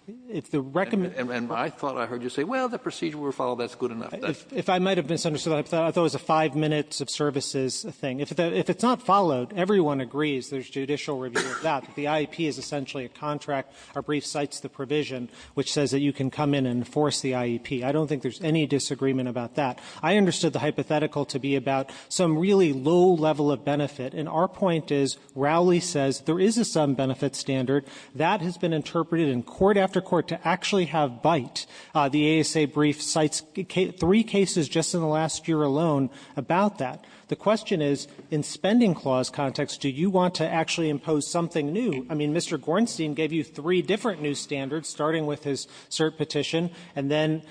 Katyala If the recommend ---- And I thought I heard you say, well, the procedure will follow. That's good enough. Katyala If I might have misunderstood that, I thought it was a five-minute of services thing. If it's not followed, everyone agrees there's judicial review of that. The IEP is essentially a contract. Our brief cites the provision which says that you can come in and enforce the IEP. I don't think there's any disagreement about that. I understood the hypothetical to be about some really low level of benefit. And our point is Rowley says there is a sub-benefit standard. That has been interpreted in court after court to actually have bite. The ASA brief cites three cases just in the last year alone about that. The question is, in spending clause context, do you want to actually impose something new? I mean, Mr. Gornstein gave you three different new standards, starting with his cert petition, and then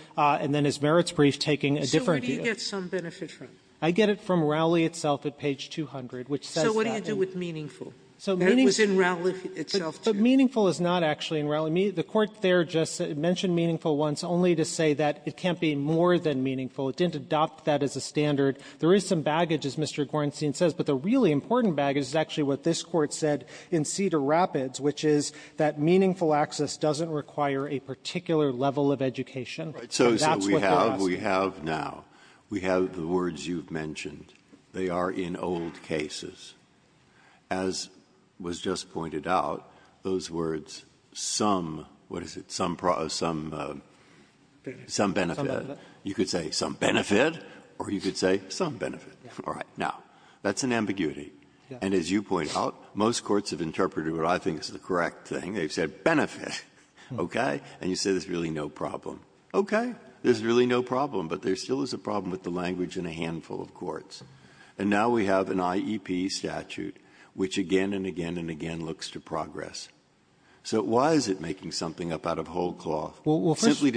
his merits brief taking a different view. Sotomayor So where do you get some benefit from? Katyala I get it from Rowley itself at page 200, which says that the ---- Sotomayor So what do you do with Meaningful? Katyala So Meaningful ---- Sotomayor That was in Rowley itself, too. Katyala But Meaningful is not actually in Rowley. The Court there just mentioned Meaningful once only to say that it can't be more than Meaningful. It didn't adopt that as a standard. There is some baggage, as Mr. Gornstein says, but the really important baggage is actually what this Court said in Cedar Rapids, which is that Meaningful access doesn't require a particular level of education. So that's what they're asking. Breyer So we have now, we have the words you've mentioned. They are in old cases. As was just pointed out, those words, some, what is it, some benefit, you could say some benefit, or you could say some benefit. All right. Now, that's an ambiguity. And as you point out, most courts have interpreted what I think is the correct thing. They've said benefit, okay? And you say there's really no problem. Okay. There's really no problem, but there still is a problem with the language in a handful of courts. And now we have an IEP statute, which again and again and again looks to progress. So why is it making something up out of whole cloth? Katyala Well, first ----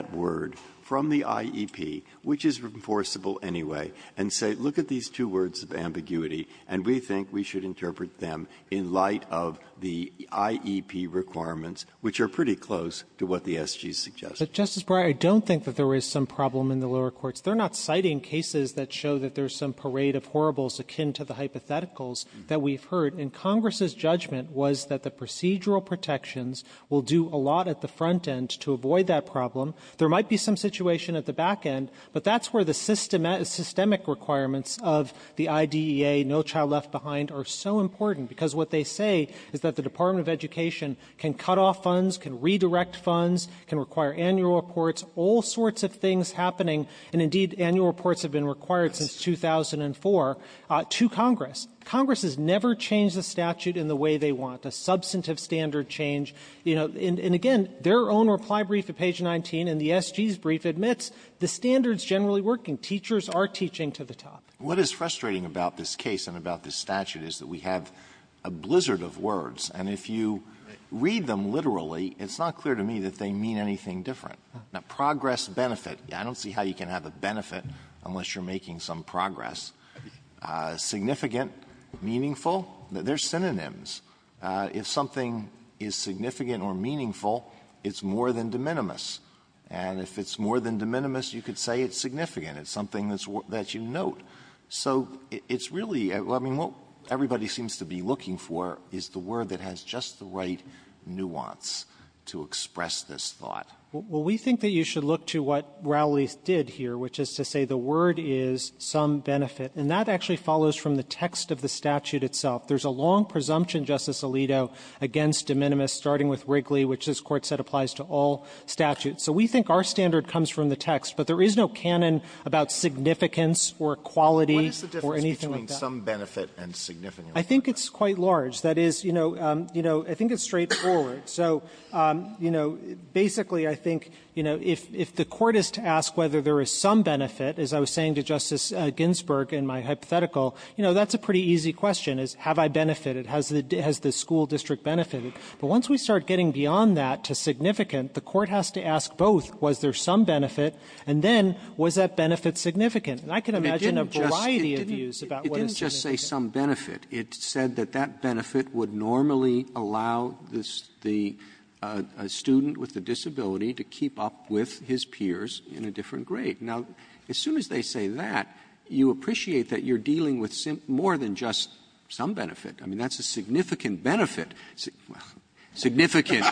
Breyer ---- which is enforceable anyway, and say, look at these two words of ambiguity, and we think we should interpret them in light of the IEP requirements, which are pretty close to what the SGs suggest. Katyala But, Justice Breyer, I don't think that there is some problem in the lower courts. They're not citing cases that show that there's some parade of horribles akin to the hypotheticals that we've heard. And Congress's judgment was that the procedural protections will do a lot at the front end to avoid that problem. There might be some situation at the back end, but that's where the systemic requirements of the IDEA, no child left behind, are so important, because what they say is that the Department of Education can cut off funds, can redirect funds, can require annual reports, all sorts of things happening. And indeed, annual reports have been required since 2004 to Congress. Congress has never changed the statute in the way they want, a substantive standard change. And, you know, and again, their own reply brief at page 19 in the SG's brief admits the standard's generally working. Teachers are teaching to the top. Alito What is frustrating about this case and about this statute is that we have a blizzard of words, and if you read them literally, it's not clear to me that they mean anything different. Now, progress benefit, I don't see how you can have a benefit unless you're making some progress. Significant, meaningful, they're synonyms. If something is significant, significant or meaningful, it's more than de minimis. And if it's more than de minimis, you could say it's significant. It's something that you note. So it's really — I mean, what everybody seems to be looking for is the word that has just the right nuance to express this thought. Katyal Well, we think that you should look to what Rowley did here, which is to say the word is some benefit. And that actually follows from the text of the statute itself. There's a long presumption, Justice Alito, against de minimis, starting with Wrigley, which this Court said applies to all statutes. So we think our standard comes from the text, but there is no canon about significance or quality or anything like that. Alito What is the difference between some benefit and significant? Katyal I think it's quite large. That is, you know, you know, I think it's straightforward. So, you know, basically, I think, you know, if the Court is to ask whether there is some benefit, as I was saying to Justice Ginsburg in my hypothetical, you know, that's a pretty easy question, is have I benefited? Has the school district benefited? But once we start getting beyond that to significant, the Court has to ask both, was there some benefit, and then was that benefit significant? And I can imagine a variety of views about what is significant. Roberts It didn't just say some benefit. It said that that benefit would normally allow the student with a disability to keep up with his peers in a different grade. Now, as soon as they say that, you appreciate that you're dealing with more than just some benefit. I mean, that's a significant benefit. Well, significant,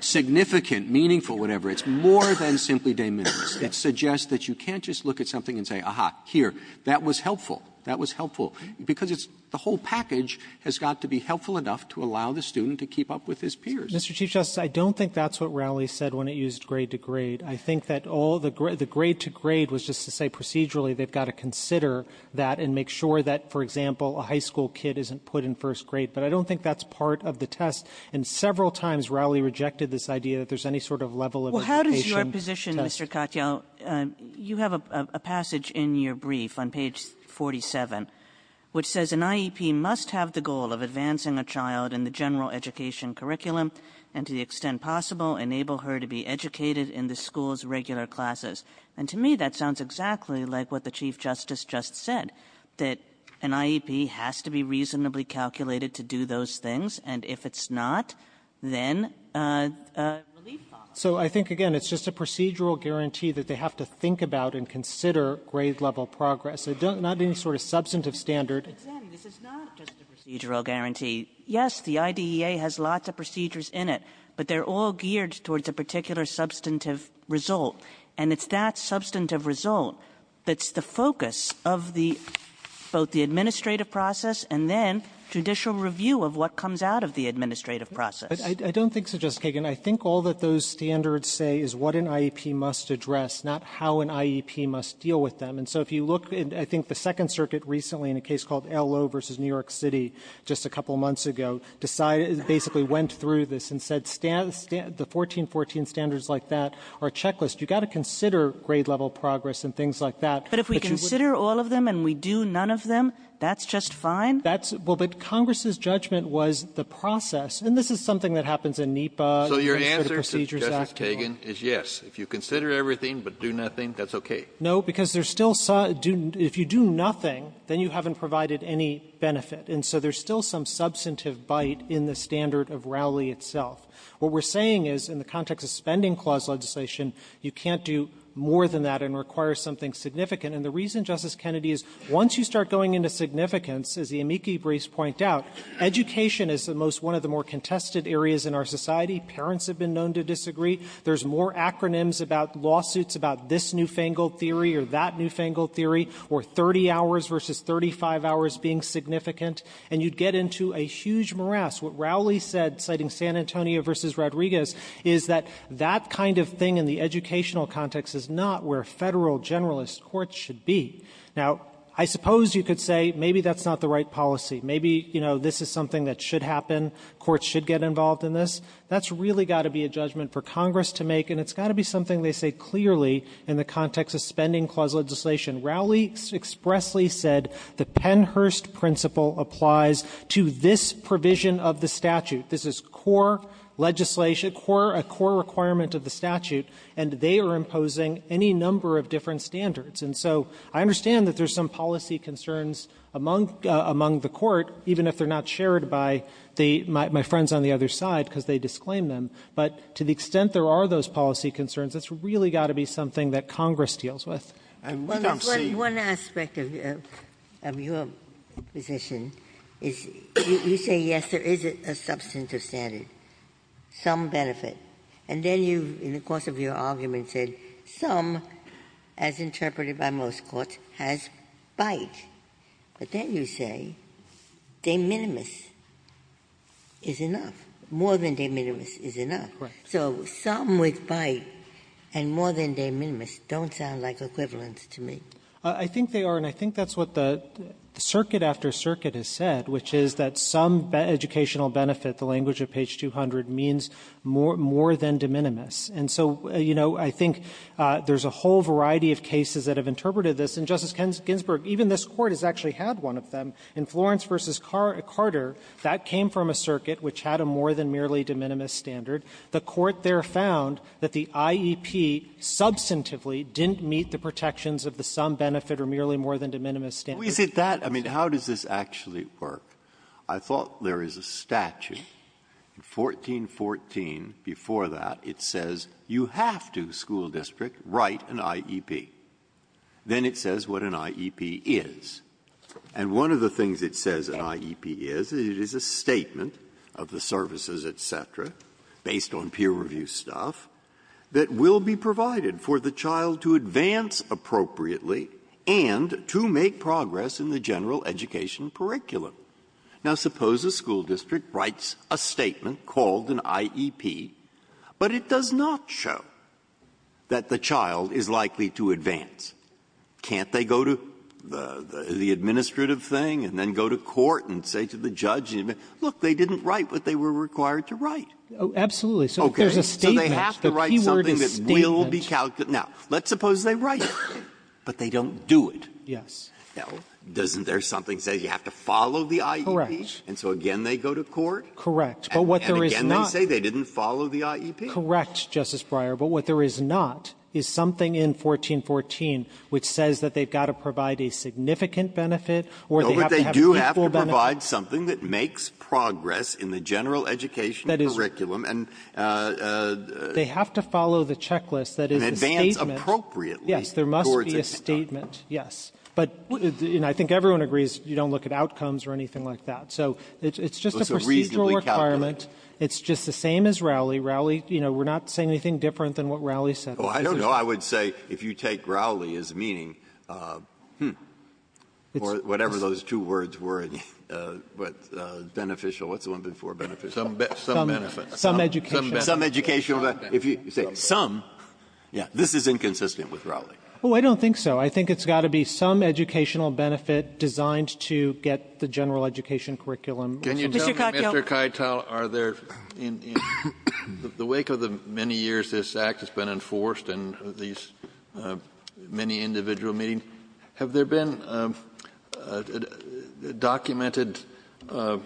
significant, meaningful, whatever. It's more than simply de minimis. It suggests that you can't just look at something and say, aha, here, that was helpful. That was helpful. Because it's the whole package has got to be helpful enough to allow the student to keep up with his peers. Katyal Mr. Chief Justice, I don't think that's what Rowley said when it used grade to grade. I think that all the grade to grade was just to say procedurally they've got to consider that and make sure that, for example, a high school kid isn't put in first grade. But I don't think that's part of the test. And several times, Rowley rejected this idea that there's any sort of level of education test. Kagan Well, how does your position, Mr. Katyal, you have a passage in your brief on page 47, which says an IEP must have the goal of advancing a child in the general education curriculum, and to the extent possible, enable her to be educated in the school's regular classes. And to me, that sounds exactly like what the Chief Justice just said, that an IEP has to be reasonably calculated to do those things, and if it's not, then relief follows. Katyal So I think, again, it's just a procedural guarantee that they have to think about and consider grade-level progress, not any sort of substantive standard. Kagan But, then, this is not just a procedural guarantee. Yes, the IDEA has lots of procedures in it, but they're all geared towards a particular substantive result. And it's that substantive result that's the focus of the — both the administrative process and then judicial review of what comes out of the administrative process. Katyal But I don't think so, Justice Kagan. I think all that those standards say is what an IEP must address, not how an IEP must deal with them. And so if you look — I think the Second Circuit recently, in a case called El Lowe v. New York City just a couple months ago, decided — basically went through this and said the 1414 standards like that are a checklist. You've got to consider grade-level progress and things like that. Kagan But if we consider all of them and we do none of them, that's just fine? Katyal That's — well, but Congress's judgment was the process. And this is something that happens in NEPA, the Procedures Act, and all. Kennedy So your answer, Justice Kagan, is yes. If you consider everything but do nothing, that's okay. Katyal No, because there's still — if you do nothing, then you haven't provided any benefit. And so there's still some substantive bite in the standard of Rowley itself. What we're saying is in the context of spending clause legislation, you can't do more than that and require something significant. And the reason, Justice Kennedy, is once you start going into significance, as the amici briefs point out, education is the most — one of the more contested areas in our society. Parents have been known to disagree. There's more acronyms about lawsuits about this newfangled theory or that newfangled being significant, and you'd get into a huge morass. What Rowley said, citing San Antonio v. Rodriguez, is that that kind of thing in the educational context is not where Federal generalist courts should be. Now, I suppose you could say maybe that's not the right policy. Maybe, you know, this is something that should happen. Courts should get involved in this. That's really got to be a judgment for Congress to make, and it's got to be something they say clearly in the context of spending clause legislation. Rowley expressly said the Pennhurst principle applies to this provision of the statute. This is core legislation, core — a core requirement of the statute, and they are imposing any number of different standards. And so I understand that there's some policy concerns among — among the Court, even if they're not shared by the — my friends on the other side, because they disclaim them, but to the extent there are those policy concerns, it's really got to be something that Congress deals with, and we don't see — Ginsburg. Well, there's one aspect of — of your position, is you say, yes, there is a substantive standard, some benefit, and then you, in the course of your argument, said some, as interpreted by most courts, has bite, but then you say de minimis is enough, more than de minimis is enough. Right. So some with bite and more than de minimis don't sound like equivalents to me. I think they are, and I think that's what the circuit after circuit has said, which is that some educational benefit, the language of page 200, means more than de minimis. And so, you know, I think there's a whole variety of cases that have interpreted this. And Justice Ginsburg, even this Court has actually had one of them. In Florence v. Carter, that came from a circuit which had a more than merely de minimis standard. The Court there found that the IEP substantively didn't meet the protections of the some benefit or merely more than de minimis standard. Breyer. I mean, how does this actually work? I thought there is a statute, in 1414, before that, it says you have to, school district, write an IEP. Then it says what an IEP is. And one of the things it says an IEP is, it is a statement of the services, et cetera, based on peer review stuff, that will be provided for the child to advance appropriately and to make progress in the general education curriculum. Now, suppose a school district writes a statement called an IEP, but it does not show that the child is likely to advance. Can't they go to the administrative thing and then go to court and say to the judge, look, they didn't write what they were required to write? Oh, absolutely. So there's a statement. So they have to write something that will be calculated. Now, let's suppose they write it, but they don't do it. Yes. Now, doesn't there something that says you have to follow the IEP? Correct. And so again, they go to court? Correct. And again, they say they didn't follow the IEP? Correct, Justice Breyer. But what there is not is something in 1414 which says that they've got to provide a significant benefit or they have to have a meaningful benefit. So they have to provide something that makes progress in the general education curriculum and they have to follow the checklist that is the statement. And advance appropriately towards the end time. Yes. There must be a statement, yes. But I think everyone agrees you don't look at outcomes or anything like that. So it's just a procedural requirement. It's just the same as Rowley. Rowley, you know, we're not saying anything different than what Rowley said. Oh, I don't know. I would say if you take Rowley as meaning, hmm, or whatever those two words were but beneficial, what's the one before beneficial? Some benefit. Some education. Some educational benefit. If you say some, yeah, this is inconsistent with Rowley. Oh, I don't think so. I think it's got to be some educational benefit designed to get the general education curriculum. Can you tell me, Mr. Keitel, are there, in the wake of the many years this Act has been enforced and these many individual meetings, have there been documents or documented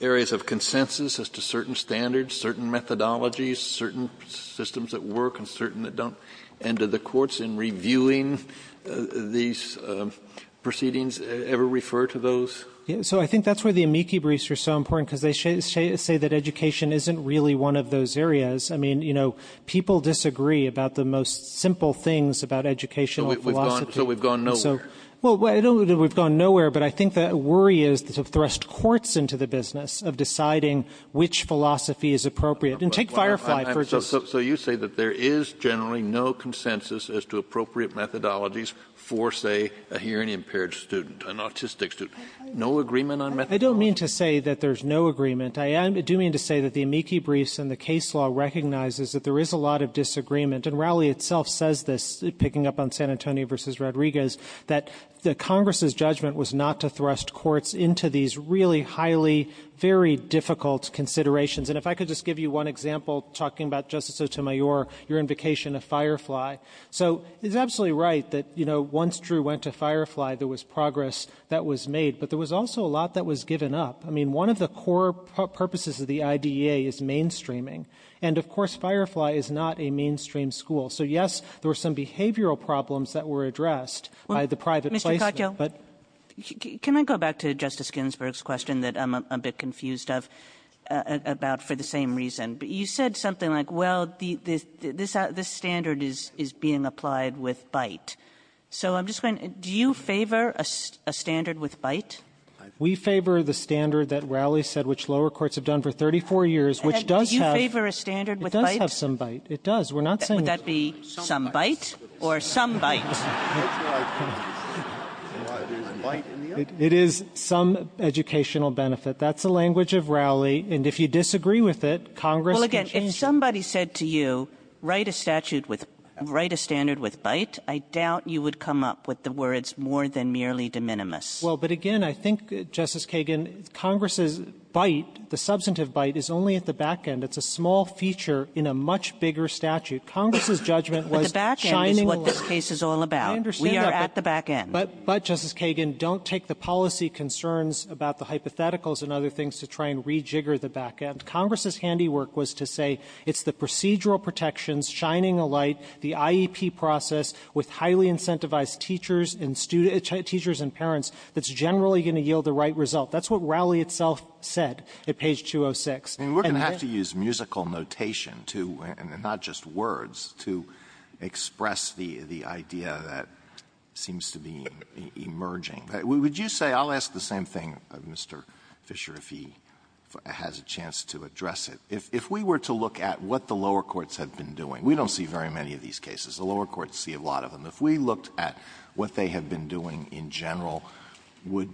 areas of consensus as to certain standards, certain methodologies, certain systems that work and certain that don't? And do the courts in reviewing these proceedings ever refer to those? So I think that's where the amici briefs are so important because they say that education isn't really one of those areas. I mean, you know, people disagree about the most simple things about educational philosophy. So we've gone nowhere. Well, I don't know that we've gone nowhere, but I think the worry is to thrust courts into the business of deciding which philosophy is appropriate. And take Firefly for instance. So you say that there is generally no consensus as to appropriate methodologies for, say, a hearing impaired student, an autistic student. No agreement on methodologies? I don't mean to say that there's no agreement. I do mean to say that the amici briefs and the case law recognizes that there is a lot of disagreement. And Rowley itself says this, picking up on San Antonio versus Rodriguez, that the Congress's judgment was not to thrust courts into these really highly, very difficult considerations. And if I could just give you one example, talking about Justice Otemayor, your invocation of Firefly. So it's absolutely right that, you know, once Drew went to Firefly, there was progress that was made. But there was also a lot that was given up. I mean, one of the core purposes of the IDEA is mainstreaming. And of course, Firefly is not a mainstream school. So yes, there were some behavioral problems that were addressed by the private placement, but- Mr. Kotyel, can I go back to Justice Ginsburg's question that I'm a bit confused of, about for the same reason? But you said something like, well, this standard is being applied with BITE. So I'm just wondering, do you favor a standard with BITE? We favor the standard that Rowley said, which lower courts have done for 34 years, which does have- Do you favor a standard with BITE? It does have some BITE. It does. We're not saying- Would that be some BITE or some BITE? It is some educational benefit. That's the language of Rowley. And if you disagree with it, Congress can change- Well, again, if somebody said to you, write a statute with — write a standard with BITE, I doubt you would come up with the words more than merely de minimis. Well, but again, I think, Justice Kagan, Congress's BITE, the substantive BITE, is only at the back end. It's a small feature in a much bigger statute. Congress's judgment was shining a light- But the back end is what this case is all about. I understand that, but- We are at the back end. But, Justice Kagan, don't take the policy concerns about the hypotheticals and other things to try and rejigger the back end. Congress's handiwork was to say it's the procedural protections, shining a light, the IEP process with highly incentivized teachers and students — teachers and parents that's generally going to yield the right result. That's what Rowley itself said at page 206. And we're going to have to use musical notation to — and not just words — to express the idea that seems to be emerging. Would you say — I'll ask the same thing, Mr. Fisher, if he has a chance to address it. If we were to look at what the lower courts have been doing — we don't see very many of these cases. The lower courts see a lot of them. If we looked at what they have been doing in general, would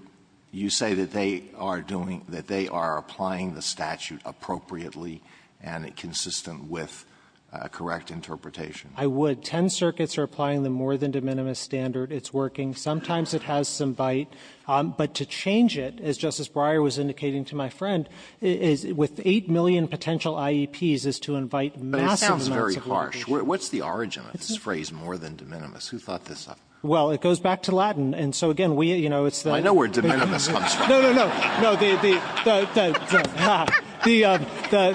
you say that they are doing the statute appropriately and consistent with correct interpretation? I would. Ten circuits are applying the more-than-de minimis standard. It's working. Sometimes it has some bite. But to change it, as Justice Breyer was indicating to my friend, is — with 8 million potential IEPs is to invite massive amounts of litigation. But it sounds very harsh. What's the origin of this phrase, more-than-de minimis? Who thought this up? Well, it goes back to Latin. And so, again, we — you know, it's the — I know where de minimis comes from. No, no, no. No, the — the —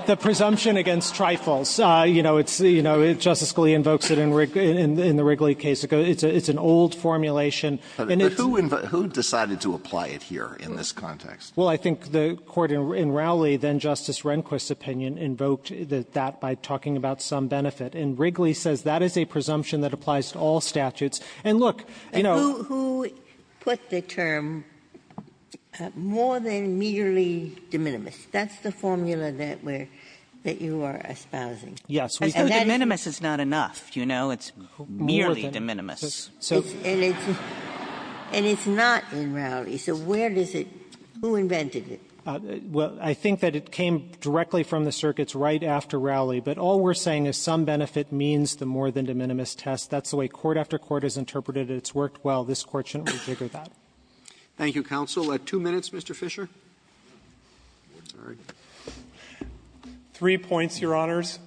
the presumption against trifles, you know, it's — you know, Justice Scalia invokes it in the Wrigley case. It's an old formulation, and it's — But who — who decided to apply it here in this context? Well, I think the Court in Rowley, then Justice Rehnquist's opinion, invoked that by talking about some benefit. And Wrigley says that is a presumption that applies to all statutes. And, look, you know — Who — who put the term more-than-merely-de minimis? That's the formula that we're — that you are espousing. Yes. And that is — But de minimis is not enough. You know, it's merely de minimis. So — And it's — and it's not in Rowley. So where does it — who invented it? Well, I think that it came directly from the circuits right after Rowley. But all we're saying is some benefit means the more-than-de minimis test. That's the way court after court has interpreted it. It's worked well. This Court shouldn't rejigger that. Thank you, counsel. Two minutes, Mr. Fisher. Three points, Your Honors,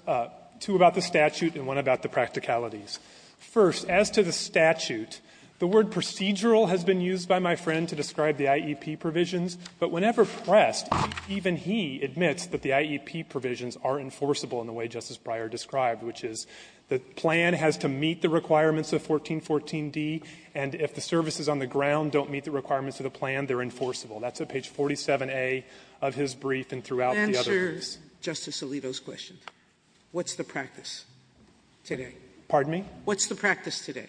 two about the statute and one about the practicalities. First, as to the statute, the word procedural has been used by my friend to describe the IEP provisions. But whenever pressed, even he admits that the IEP provisions are enforceable in the way Justice Breyer described, which is the plan has to meet the requirements of 1414d, and if the services on the ground don't meet the requirements of the plan, they're enforceable. That's at page 47A of his brief and throughout the other briefs. Sotomayor's question, what's the practice today? Pardon me? What's the practice today?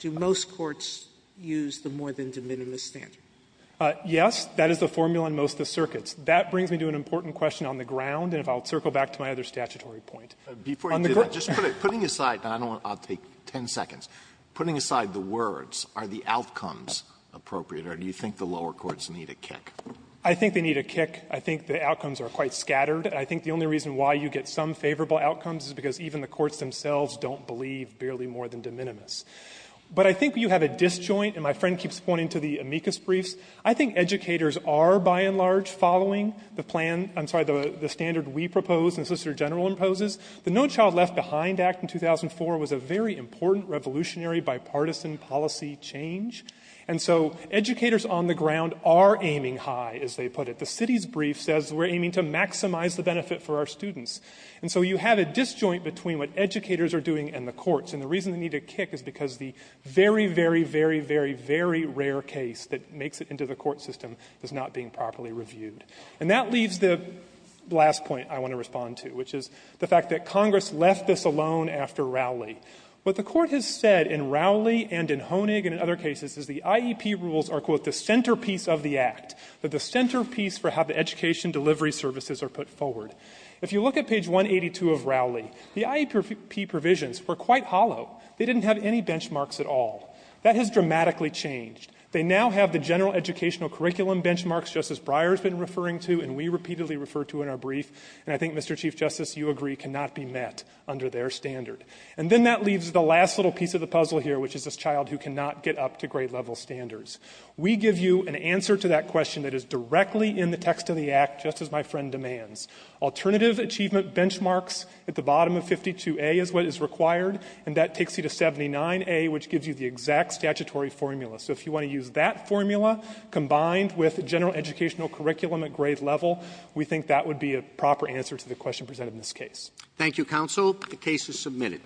Do most courts use the more-than-de minimis standard? Yes. That is the formula in most of the circuits. That brings me to an important question on the ground, and if I'll circle back to my other statutory point. Before you do that, just putting aside, and I don't want to take ten seconds, putting aside the words, are the outcomes appropriate, or do you think the lower courts need a kick? I think they need a kick. I think the outcomes are quite scattered. I think the only reason why you get some favorable outcomes is because even the courts themselves don't believe barely more-than-de minimis. But I think you have a disjoint, and my friend keeps pointing to the amicus briefs. I think educators are, by and large, following the plan — I'm sorry, the standard we propose and the Solicitor General imposes. The No Child Left Behind Act in 2004 was a very important revolutionary bipartisan policy change. And so educators on the ground are aiming high, as they put it. The city's brief says we're aiming to maximize the benefit for our students. And so you have a disjoint between what educators are doing and the courts. And the reason they need a kick is because the very, very, very, very, very rare case that makes it into the court system is not being properly reviewed. And that leaves the last point I want to respond to, which is the fact that Congress left this alone after Rowley. What the Court has said in Rowley and in Honig and in other cases is the IEP rules are, quote, the centerpiece of the Act, that the centerpiece for how the education delivery services are put forward. If you look at page 182 of Rowley, the IEP provisions were quite hollow. They didn't have any benchmarks at all. That has dramatically changed. They now have the general educational curriculum benchmarks Justice Breyer has been referring to and we repeatedly refer to in our brief. And I think, Mr. Chief Justice, you agree cannot be met under their standard. And then that leaves the last little piece of the puzzle here, which is this child who cannot get up to grade-level standards. We give you an answer to that question that is directly in the text of the Act, just as my friend demands. Alternative achievement benchmarks at the bottom of 52A is what is required. And that takes you to 79A, which gives you the exact statutory formula. So if you want to use that formula combined with general educational curriculum at grade level, we think that would be a proper answer to the question presented in this case. Thank you, counsel. The case is submitted.